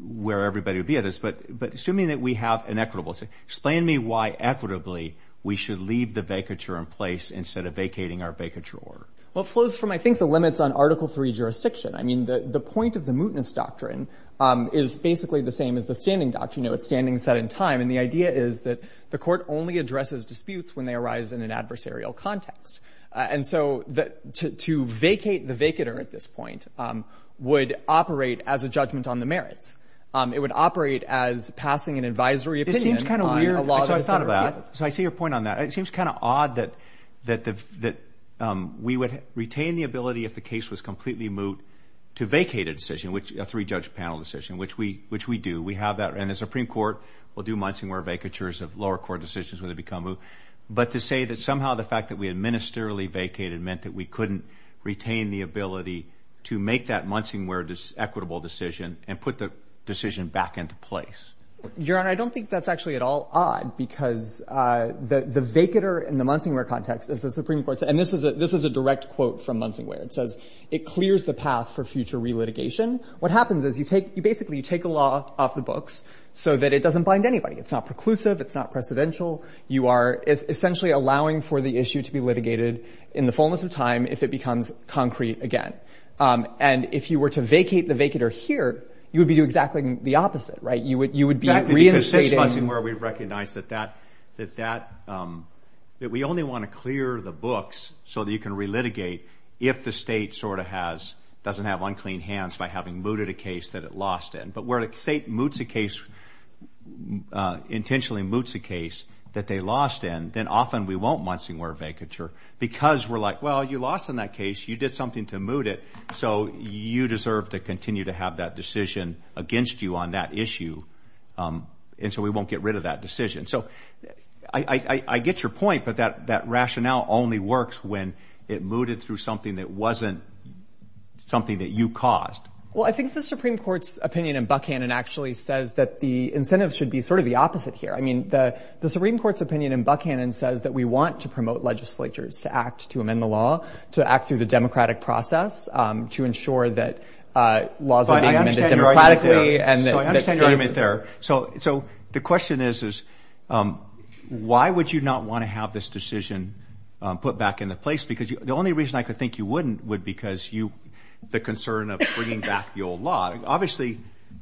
where everybody would be at this, but assuming that we have an equitable, explain to me why, equitably, we should leave the vacature in place, instead of vacating our vacature order. Well, it flows from, I think, the limits on Article III jurisdiction. I mean, the point of the mootness doctrine is basically the same as the standing doctrine. It's standing set in time. And the idea is that the court only addresses disputes when they arise in an adversarial context. And so to vacate the vacater at this point would operate as a judgment on the merits. It would operate as passing an advisory opinion. So I see your point on that. It seems kind of odd that we would retain the ability, if the case was completely moot, to vacate a decision, a three-judge panel decision, which we do. We have that in the Supreme Court. We'll do Munsingwear vacatures of lower court decisions when they become moot. But to say that somehow the fact that we had ministerially vacated meant that we couldn't retain the ability to make that Munsingwear equitable decision and put the decision back into place. Your Honor, I don't think that's actually at all odd because the vacater in the Munsingwear context is the Supreme Court. And this is a direct quote from Munsingwear. It says, it clears the path for future re-litigation. What happens is you basically take a law off the books so that it doesn't bind anybody. It's not preclusive. It's not precedential. You are essentially allowing for the issue to be litigated in the fullness of time if it becomes concrete again. And if you were to vacate the vacater here, you would be doing exactly the opposite. Right? You would be reinstating... Exactly, because six Munsingwear, we've recognized that that, that we only want to clear the books so that you can re-litigate if the state sort of has, doesn't have unclean hands by having mooted a case that it lost in. But where the state moots a case, intentionally moots a case that they lost in, then often we won't Munsingwear a vacature because we're like, well, you lost in that case. You did something to moot it. So you deserve to continue to have that decision against you on that issue. And so we won't get rid of that decision. So I get your point, but that rationale only works when it mooted through something that wasn't something that you caused. Well, I think the Supreme Court's opinion in Buckhannon actually says that the incentives should be sort of the opposite here. I mean, the Supreme Court's opinion in Buckhannon says that we want to promote legislatures to act to amend the law, to act through the democratic process to ensure that laws are being amended democratically. So I understand your argument there. So the question is, why would you not want to have this decision put back into place? Because the only reason I could think you wouldn't would be because the concern of bringing back the old law. Obviously,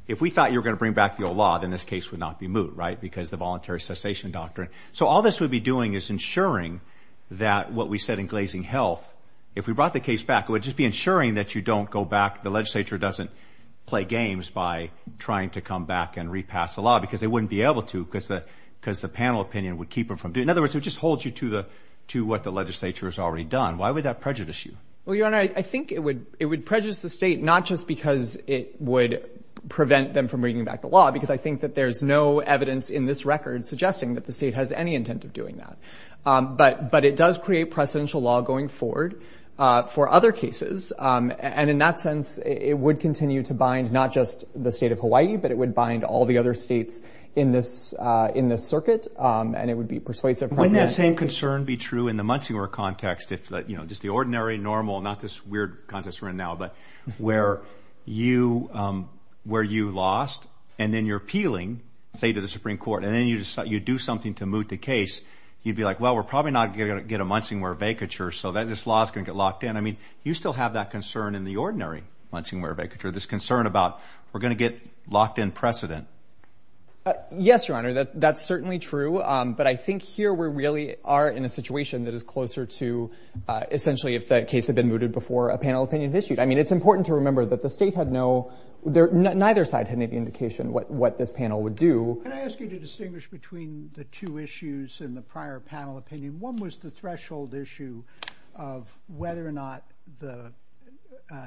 if we thought you were going to bring back the old law, then this case would not be moot, right, because of the voluntary cessation doctrine. So all this would be doing is ensuring that what we said in Glazing Health, if we brought the case back, it would just be ensuring that you don't go back, the legislature doesn't play games by trying to come back and repass the law because they wouldn't be able to because the panel opinion would keep them from doing it. In other words, it would just hold you to what the legislature has already done. Why would that prejudice you? Well, Your Honor, I think it would prejudice the state not just because it would prevent them from bringing back the law, because I think that there's no evidence in this record suggesting that the state has any intent of doing that. But it does create precedential law going forward for other cases. And in that sense, it would continue to bind not just the state of Hawaii, but it would bind all the other states in this circuit, and it would be persuasive. Wouldn't that same concern be true in the Munsingwera context, if just the ordinary, normal, not this weird context we're in now, but where you lost, and then you're appealing, say, to the Supreme Court, and then you do something to moot the case, you'd be like, well, we're probably not going to get a Munsingwera vacature, so this law is going to get locked in. I mean, you still have that concern in the ordinary Munsingwera vacature, this concern about we're going to get locked in precedent. Yes, Your Honor, that's certainly true, but I think here we really are in a situation that is closer to essentially if the case had been mooted before a panel opinion issued. I mean, it's important to remember that the state had no... neither side had any indication what this panel would do. Can I ask you to distinguish between the two issues in the prior panel opinion? One was the threshold issue of whether or not the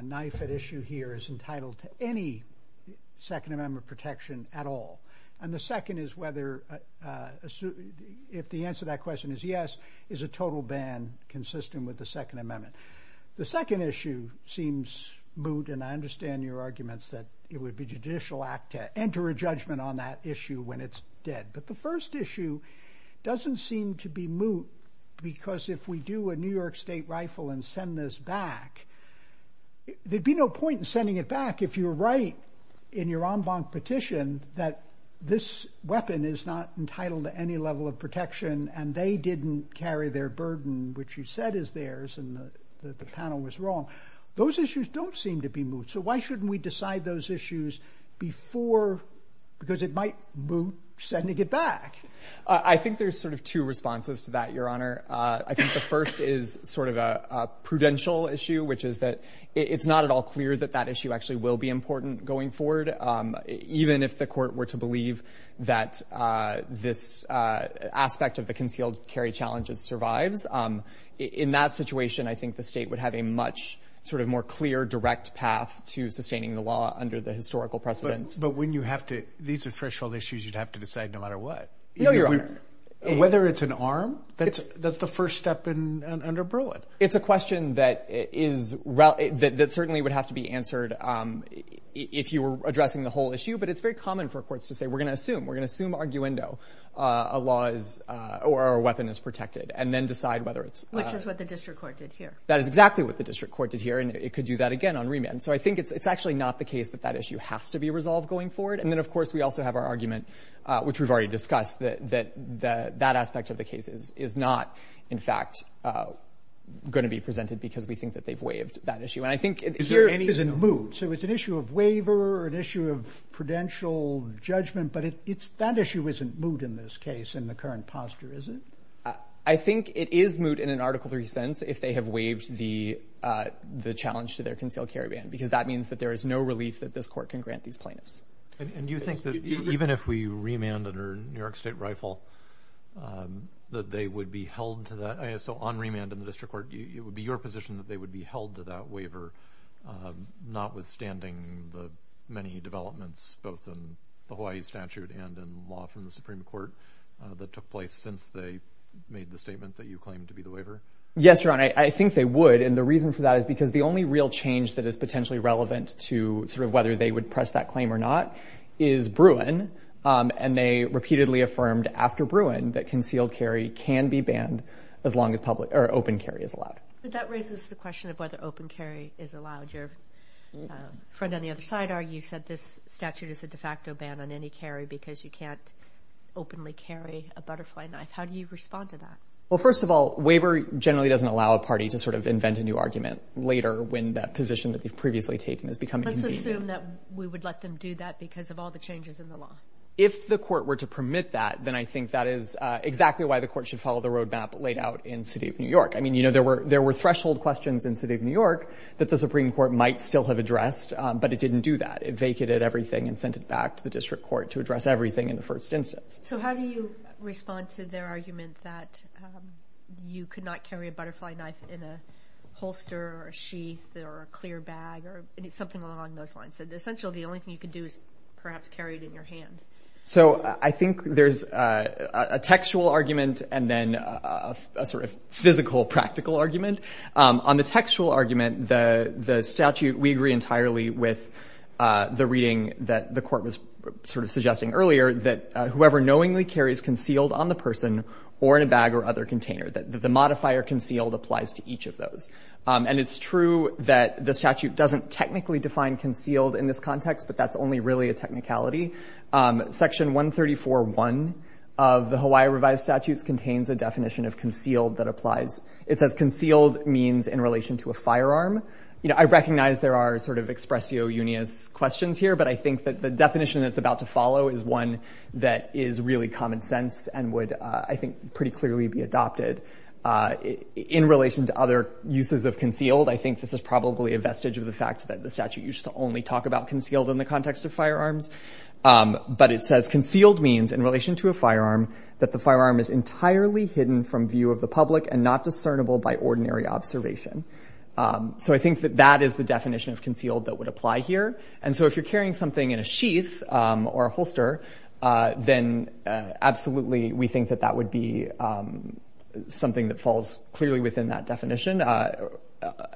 knife at issue here is entitled to any Second Amendment protection at all, and the second is whether... if the answer to that question is yes, is a total ban consistent with the Second Amendment. The second issue seems moot, and I understand your arguments that it would be a judicial act to enter a judgment on that issue when it's dead, but the first issue doesn't seem to be moot because if we do a New York state rifle and send this back, there'd be no point in sending it back if you're right in your en banc petition that this weapon is not entitled to any level of protection and they didn't carry their burden, which you said is theirs, and the panel was wrong. Those issues don't seem to be moot, so why shouldn't we decide those issues before... because it might moot sending it back. I think there's sort of two responses to that, Your Honor. I think the first is sort of a prudential issue, which is that it's not at all clear that that issue actually will be important going forward, even if the court were to believe that this aspect of the concealed carry challenges survives. In that situation, I think the state would have a much sort of more clear, direct path to sustaining the law under the historical precedents. But when you have to... No, Your Honor. Whether it's an arm, that's the first step under Bruin. It's a question that is... that certainly would have to be answered if you were addressing the whole issue, but it's very common for courts to say, we're going to assume, we're going to assume arguendo a law is... or a weapon is protected, and then decide whether it's... Which is what the district court did here. That is exactly what the district court did here, and it could do that again on remand. So I think it's actually not the case that that issue has to be resolved going forward, and then, of course, we also have our argument, which we've already discussed, that that aspect of the case is not, in fact, going to be presented because we think that they've waived that issue. And I think... Is there any... So it's an issue of waiver, an issue of prudential judgment, but that issue isn't moot in this case in the current posture, is it? I think it is moot in an Article III sense if they have waived the challenge to their concealed carry ban, because that means that there is no relief that this court can grant these plaintiffs. And do you think that even if we remand under New York State Rifle, that they would be held to that... So on remand in the district court, it would be your position that they would be held to that waiver, notwithstanding the many developments, both in the Hawaii statute and in law from the Supreme Court that took place since they made the statement that you claimed to be the waiver? Yes, Your Honor, I think they would, and the reason for that is because the only real change that is potentially relevant to sort of whether they would press that claim or not is Bruin, and they repeatedly affirmed after Bruin that concealed carry can be banned as long as open carry is allowed. But that raises the question of whether open carry is allowed. Your friend on the other side argues that this statute is a de facto ban on any carry because you can't openly carry a butterfly knife. How do you respond to that? Well, first of all, waiver generally doesn't allow a party to sort of invent a new argument later when that position that they've previously taken is becoming invasive. I assume that we would let them do that because of all the changes in the law. If the court were to permit that, then I think that is exactly why the court should follow the roadmap laid out in the city of New York. I mean, you know, there were threshold questions in the city of New York that the Supreme Court might still have addressed, but it didn't do that. It vacated everything and sent it back to the district court to address everything in the first instance. So how do you respond to their argument that you could not carry a butterfly knife in a holster or a sheath or a clear bag or something along those lines? Essentially, the only thing you could do is perhaps carry it in your hand. So I think there's a textual argument and then a sort of physical, practical argument. On the textual argument, the statute, we agree entirely with the reading that the court was sort of suggesting earlier that whoever knowingly carries concealed on the person or in a bag or other container, that the modifier concealed applies to each of those. And it's true that the statute doesn't technically define concealed in this context, but that's only really a technicality. Section 134.1 of the Hawaii Revised Statutes contains a definition of concealed that applies. It says concealed means in relation to a firearm. You know, I recognize there are sort of expressio unias questions here, but I think that the definition that's about to follow is one that is really common sense and would, I think, pretty clearly be adopted in relation to other uses of concealed. I think this is probably a vestige of the fact that the statute used to only talk about concealed in the context of firearms. But it says concealed means in relation to a firearm that the firearm is entirely hidden from view of the public and not discernible by ordinary observation. So I think that that is the definition of concealed that would apply here. And so if you're carrying something in a sheath or a holster, then absolutely we think that that would be something that falls clearly within that definition, or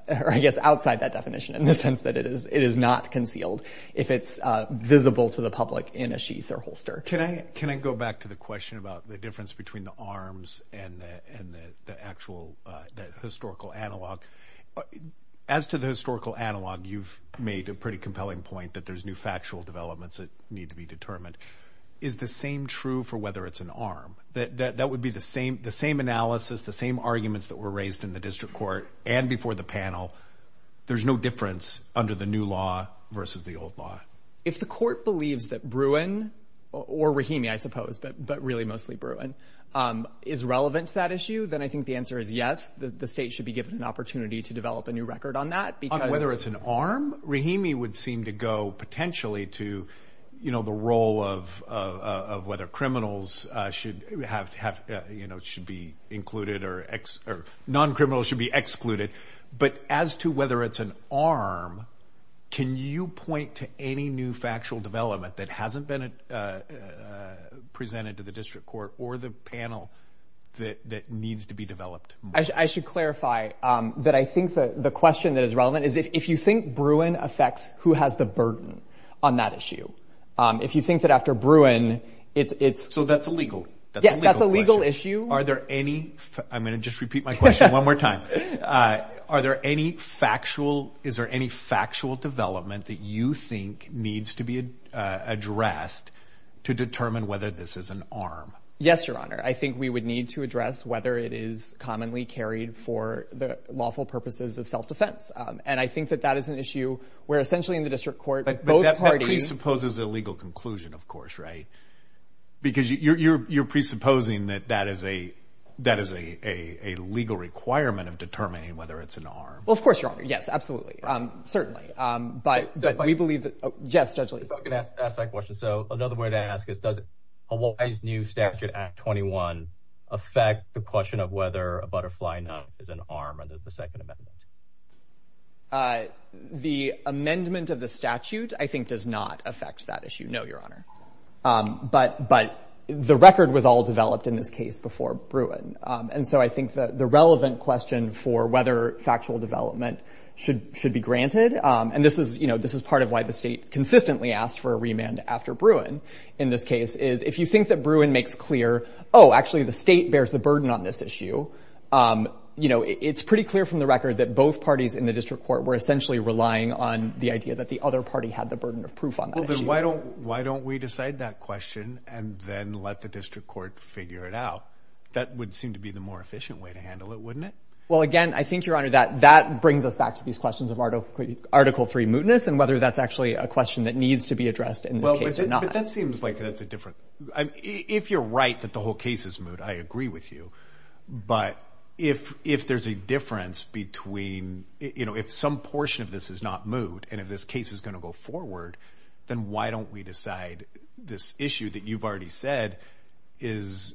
I guess outside that definition in the sense that it is not concealed if it's visible to the public in a sheath or holster. Can I go back to the question about the difference between the arms and the actual historical analog? As to the historical analog, you've made a pretty compelling point that there's new factual developments that need to be determined. Is the same true for whether it's an arm? That would be the same analysis, the same arguments that were raised in the district court and before the panel. There's no difference under the new law versus the old law. If the court believes that Bruin, or Rahimi, I suppose, but really mostly Bruin, is relevant to that issue, then I think the answer is yes. The state should be given an opportunity to develop a new record on that because... On whether it's an arm? Rahimi would seem to go potentially to, you know, the role of whether criminals should be included or non-criminals should be excluded. But as to whether it's an arm, can you point to any new factual development that hasn't been presented to the district court or the panel that needs to be developed? I should clarify that I think the question that is relevant is if you think Bruin affects who has the burden on that issue, if you think that after Bruin, it's... So that's a legal question? Yes, that's a legal issue. Are there any... I'm going to just repeat my question one more time. Are there any factual... Is there any factual development that you think needs to be addressed to determine whether this is an arm? Yes, Your Honor. I think we would need to address whether it is commonly carried for the lawful purposes of self-defense. And I think that that is an issue where essentially in the district court... That presupposes a legal conclusion, of course, right? Because you're presupposing that that is a legal requirement of determining whether it's an arm. Well, of course, Your Honor. Yes, absolutely. But we believe that... Yes, Judge Lee. Can I ask a question? So another way to ask is, does Hawaii's new statute, Act 21, affect the question of whether a butterfly knot is an arm under the Second Amendment? The amendment of the statute, I think, does not affect that issue. No, Your Honor. But the record was all developed in this case before Bruin. And so I think the relevant question for whether factual development should be granted... And this is part of why the state consistently asked for a remand after Bruin in this case, is if you think that Bruin makes clear, oh, actually the state bears the burden on this issue, it's pretty clear from the record that both parties in the district court were essentially relying on the idea that the other party had the burden of proof on that issue. Well, then why don't we decide that question and then let the district court figure it out? That would seem to be the more efficient way to handle it, wouldn't it? Well, again, I think, Your Honor, that brings us back to these questions of Article III mootness and whether that's actually a question that needs to be addressed in this case or not. But that seems like that's a different... If you're right that the whole case is moot, I agree with you. But if there's a difference between... If some portion of this is not moot and if this case is going to go forward, then why don't we decide this issue that you've already said is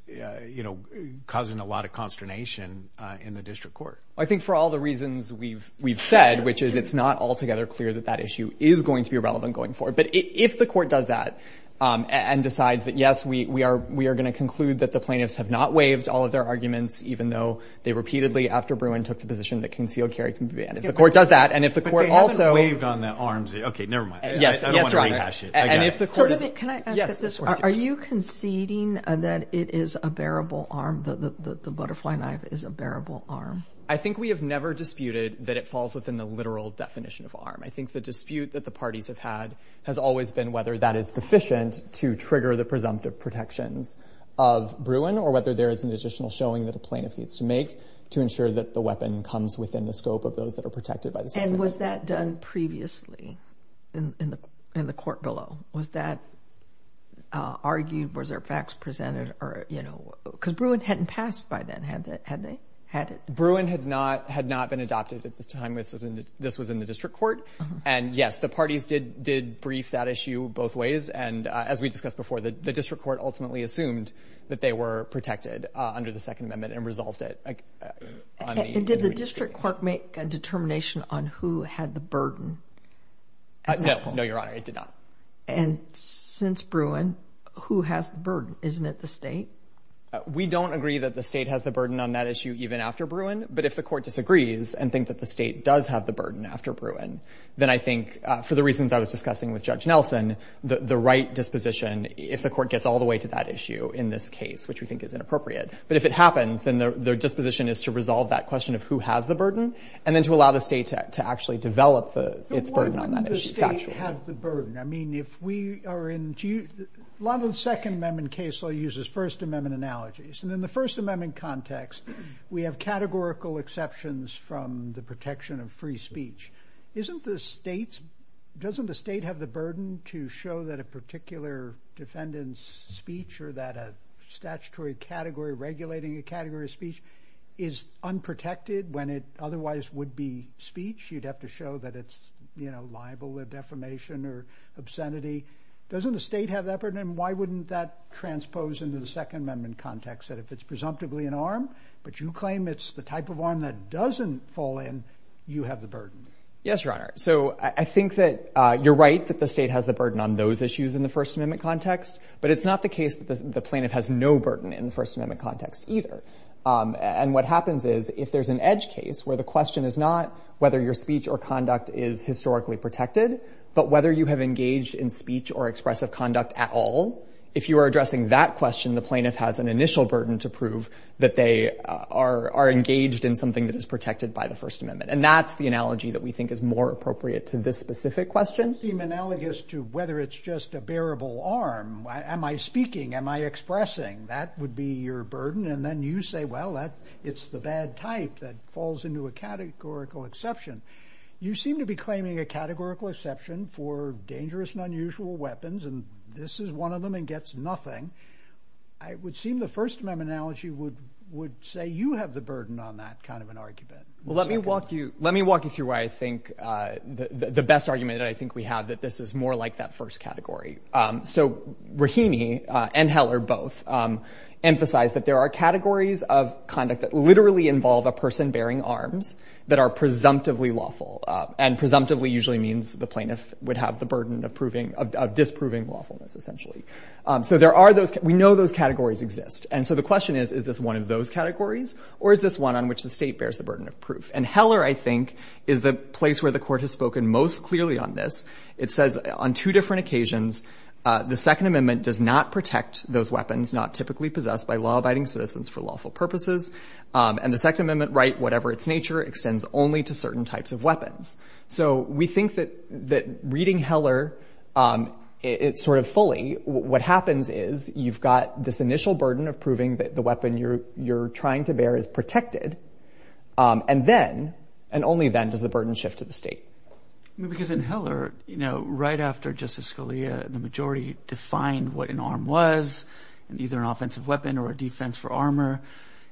causing a lot of consternation in the district court? I think for all the reasons we've said, which is it's not altogether clear that that issue is going to be relevant going forward. But if the court does that and decides that yes, we are going to conclude that the plaintiffs have not waived all of their arguments even though they repeatedly, after Bruin, took the position that concealed carry can be banned. If the court does that and if the court also... But they haven't waived on the arms. Okay, never mind. Yes, Your Honor. I don't want to rehash it again. So let me... Can I ask this? Are you conceding that it is a bearable arm, that the butterfly knife is a bearable arm? I think we have never disputed that it falls within the literal definition of arm. I think the dispute that the parties have had has always been whether that is sufficient to trigger the presumptive protections of Bruin or whether there is an additional showing that a plaintiff needs to make to ensure that the weapon comes within the scope of those that are protected by the statute. And was that done previously in the court below? Was that argued? Was there facts presented? Because Bruin hadn't passed by then, had they? Bruin had not been adopted at this time. This was in the district court. And yes, the parties did brief that issue both ways. And as we discussed before, the district court ultimately assumed that they were protected under the Second Amendment and resolved it on the... And did the district court make a determination on who had the burden? No, Your Honor, it did not. And since Bruin, who has the burden? Isn't it the state? We don't agree that the state has the burden on that issue even after Bruin. But if the court disagrees and think that the state does have the burden after Bruin, then I think, for the reasons I was discussing with Judge Nelson, the right disposition, if the court gets all the way to that issue in this case, which we think is inappropriate. But if it happens, then their disposition is to resolve that question of who has the burden and then to allow the state to actually develop its burden on that issue factually. But why wouldn't the state have the burden? I mean, if we are in... A lot of the Second Amendment case law uses First Amendment analogies. And in the First Amendment context, we have categorical exceptions from the protection of free speech. Isn't the state's... Doesn't the state have the burden to show that a particular defendant's speech or that a statutory category regulating a category of speech is unprotected when it otherwise would be speech? You'd have to show that it's, you know, liable with defamation or obscenity. Doesn't the state have that burden? And why wouldn't that transpose into the Second Amendment context that if it's presumptively an arm, but you claim it's the type of arm that doesn't fall in, you have the burden? Yes, Your Honor. So I think that you're right that the state has the burden on those issues in the First Amendment context. But it's not the case that the plaintiff has no burden in the First Amendment context either. And what happens is, if there's an edge case where the question is not whether your speech or conduct is historically protected, but whether you have engaged in speech or expressive conduct at all, if you are addressing that question, the plaintiff has an initial burden to prove that they are engaged in something that is protected by the First Amendment. And that's the analogy that we think is more appropriate to this specific question. It does seem analogous to whether it's just a bearable arm. Am I speaking? Am I expressing? That would be your burden. And then you say, well, it's the bad type that falls into a categorical exception. You seem to be claiming a categorical exception for dangerous and unusual weapons, and this is one of them and gets nothing. It would seem the First Amendment analogy would say you have the burden on that kind of an argument. Well, let me walk you through why I think the best argument that I think we have that this is more like that first category. So Rahimi and Heller both emphasize that there are categories of conduct that literally involve a person bearing arms that are presumptively lawful. And presumptively usually means the plaintiff would have the burden of disproving lawfulness, essentially. So we know those categories exist. And so the question is, is this one of those categories or is this one on which the state bears the burden of proof? And Heller, I think, is the place where the court has spoken most clearly on this. It says on two different occasions, the Second Amendment does not protect those weapons not typically possessed by law-abiding citizens for lawful purposes, and the Second Amendment right, whatever its nature, extends only to certain types of weapons. So we think that reading Heller sort of fully, what happens is you've got this initial burden of proving that the weapon you're trying to bear is protected, and then, and only then, does the burden shift to the state. Because in Heller, you know, right after Justice Scalia and the majority defined what an arm was, either an offensive weapon or a defense for armor,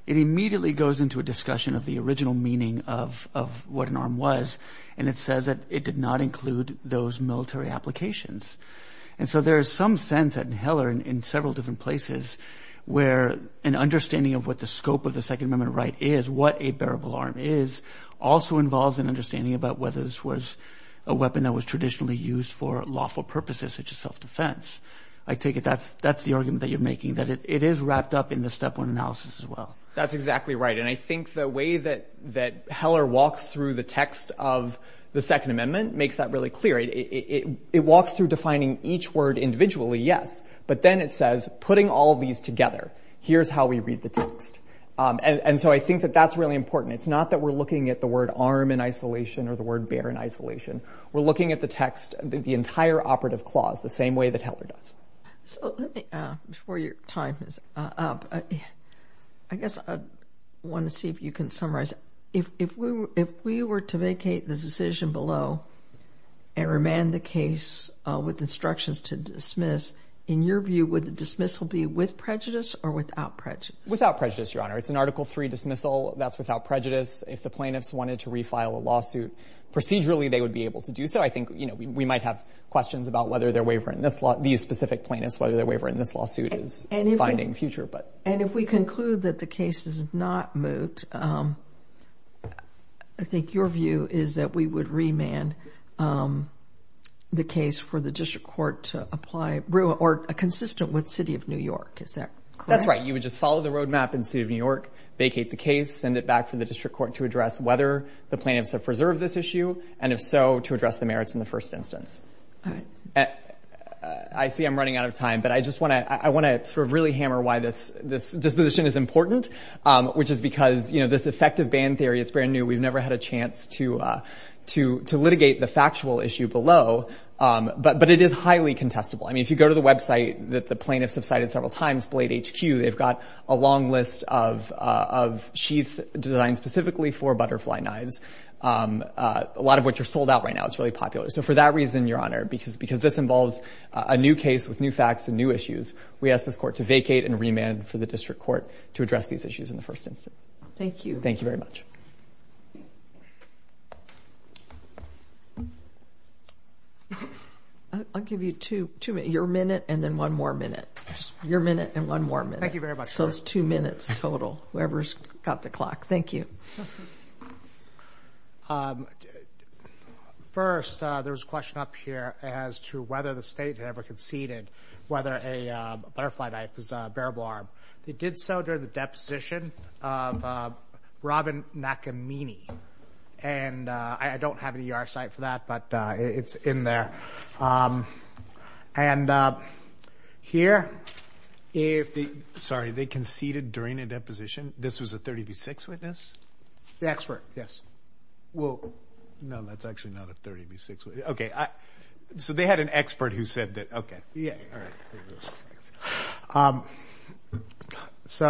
it immediately goes into a discussion of the original meaning of what an arm was, and it says that it did not include those military applications. And so there is some sense that in Heller and in several different places where an understanding of what the scope of the Second Amendment right is, what a bearable arm is, also involves an understanding about whether this was a weapon that was traditionally used for lawful purposes, such as self-defense. I take it that's the argument that you're making, that it is wrapped up in the Step 1 analysis as well. That's exactly right, and I think the way that Heller walks through the text of the Second Amendment makes that really clear. It walks through defining each word individually, yes, but then it says, putting all these together, here's how we read the text. And so I think that that's really important. It's not that we're looking at the word arm in isolation or the word bear in isolation. We're looking at the text, the entire operative clause, the same way that Heller does. So let me, before your time is up, I guess I want to see if you can summarize. If we were to vacate the decision below and remand the case with instructions to dismiss, in your view, would the dismissal be with prejudice or without prejudice? Without prejudice, Your Honor. It's an Article 3 dismissal. That's without prejudice. If the plaintiffs wanted to refile a lawsuit procedurally, they would be able to do so. I think, you know, we might have questions about whether their waiver in this law, these specific plaintiffs, whether their waiver in this lawsuit is finding future. And if we conclude that the case is not moot, I think your view is that we would remand the case for the district court to apply, or consistent with City of New York. Is that correct? That's right. You would just follow the road map in City of New York, vacate the case, send it back for the district court to address whether the plaintiffs have preserved this issue, and if so, to address the merits in the first instance. All right. I see I'm running out of time, but I just want to, I want to sort of really hammer why this disposition is important, which is because, you know, this effective ban theory, it's brand new. We've never had a chance to litigate the factual issue below, but it is highly contestable. I mean, if you go to the website that the plaintiffs have cited several times, Blade HQ, they've got a long list of sheaths designed specifically for butterfly knives, a lot of which are sold out right now. It's really popular. So for that reason, Your Honor, because this involves a new case with new facts and new issues, we ask this court to vacate and remand for the district court to address these issues in the first instance. Thank you. Thank you very much. I'll give you two minutes. Your minute and then one more minute. Your minute and one more minute. Thank you very much. So it's two minutes total, whoever's got the clock. Thank you. First, there was a question up here as to whether the state had ever conceded whether a butterfly knife was a bearable arm. They did so during the deposition of Robin Nakamini. And I don't have an ER site for that, but it's in there. Sorry, they conceded during a deposition? This was a 30 v. 6 witness? The expert, yes. Well, no, that's actually not a 30 v. 6 witness. Okay, so they had an expert who said that. Yeah, all right. So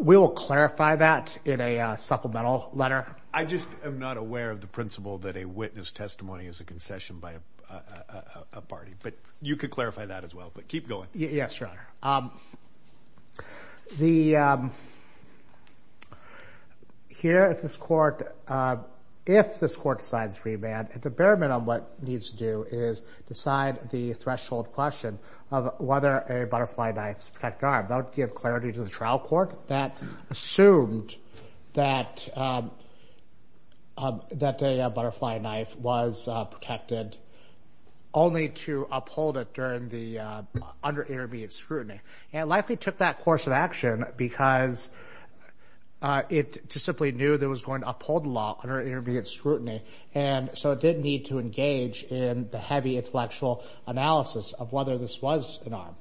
we will clarify that in a supplemental letter. I just am not aware of the principle that a witness testimony is a concession by a party. But you could clarify that as well, but keep going. Yes, Your Honor. Here at this court, if this court decides to remand, at the bare minimum, what it needs to do is decide the threshold question of whether a butterfly knife is a protected arm. That would give clarity to the trial court that assumed that a butterfly knife was protected only to uphold it during the under-intermediate scrutiny. And it likely took that course of action because it just simply knew that it was going to uphold the law under intermediate scrutiny. And so it didn't need to engage in the heavy intellectual analysis of whether this was an arm.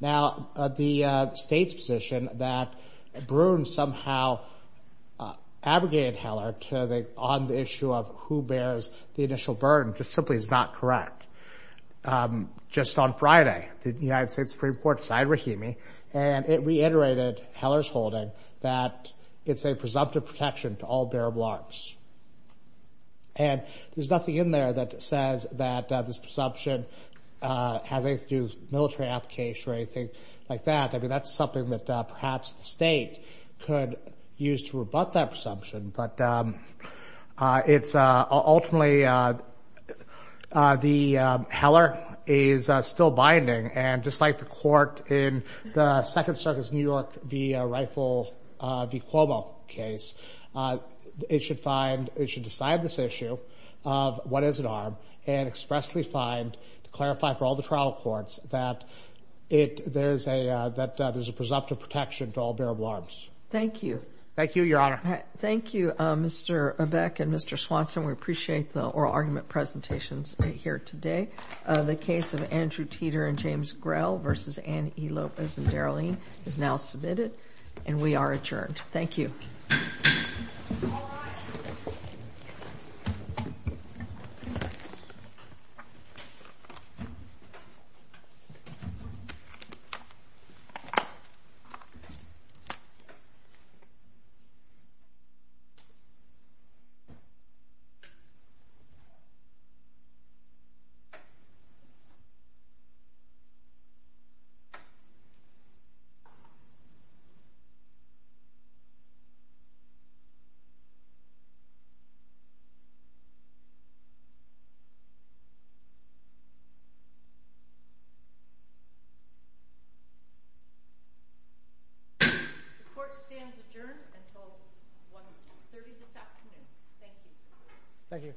Now, the state's position that Bruin somehow abrogated Heller on the issue of who bears the initial burden just simply is not correct. Just on Friday, the United States Supreme Court signed Rahimi, and it reiterated Heller's holding that it's a presumptive protection to all bearable arms. And there's nothing in there that says that this presumption has anything to do with a military application or anything like that. I mean, that's something that perhaps the state could use to rebut that presumption. But ultimately, Heller is still binding. And just like the court in the Second Circus New York v. Rifle v. Cuomo case, it should find, it should decide this issue of what is an arm and expressly find, to clarify for all the trial courts, that there's a presumptive protection to all bearable arms. Thank you. Thank you, Your Honor. Thank you, Mr. Beck and Mr. Swanson. We appreciate the oral argument presentations here today. The case of Andrew Teeter and James Grell v. Anne E. Lopez and Darylene is now submitted, and we are adjourned. Thank you. The court stands adjourned until 1.30 this afternoon. Thank you. Thank you.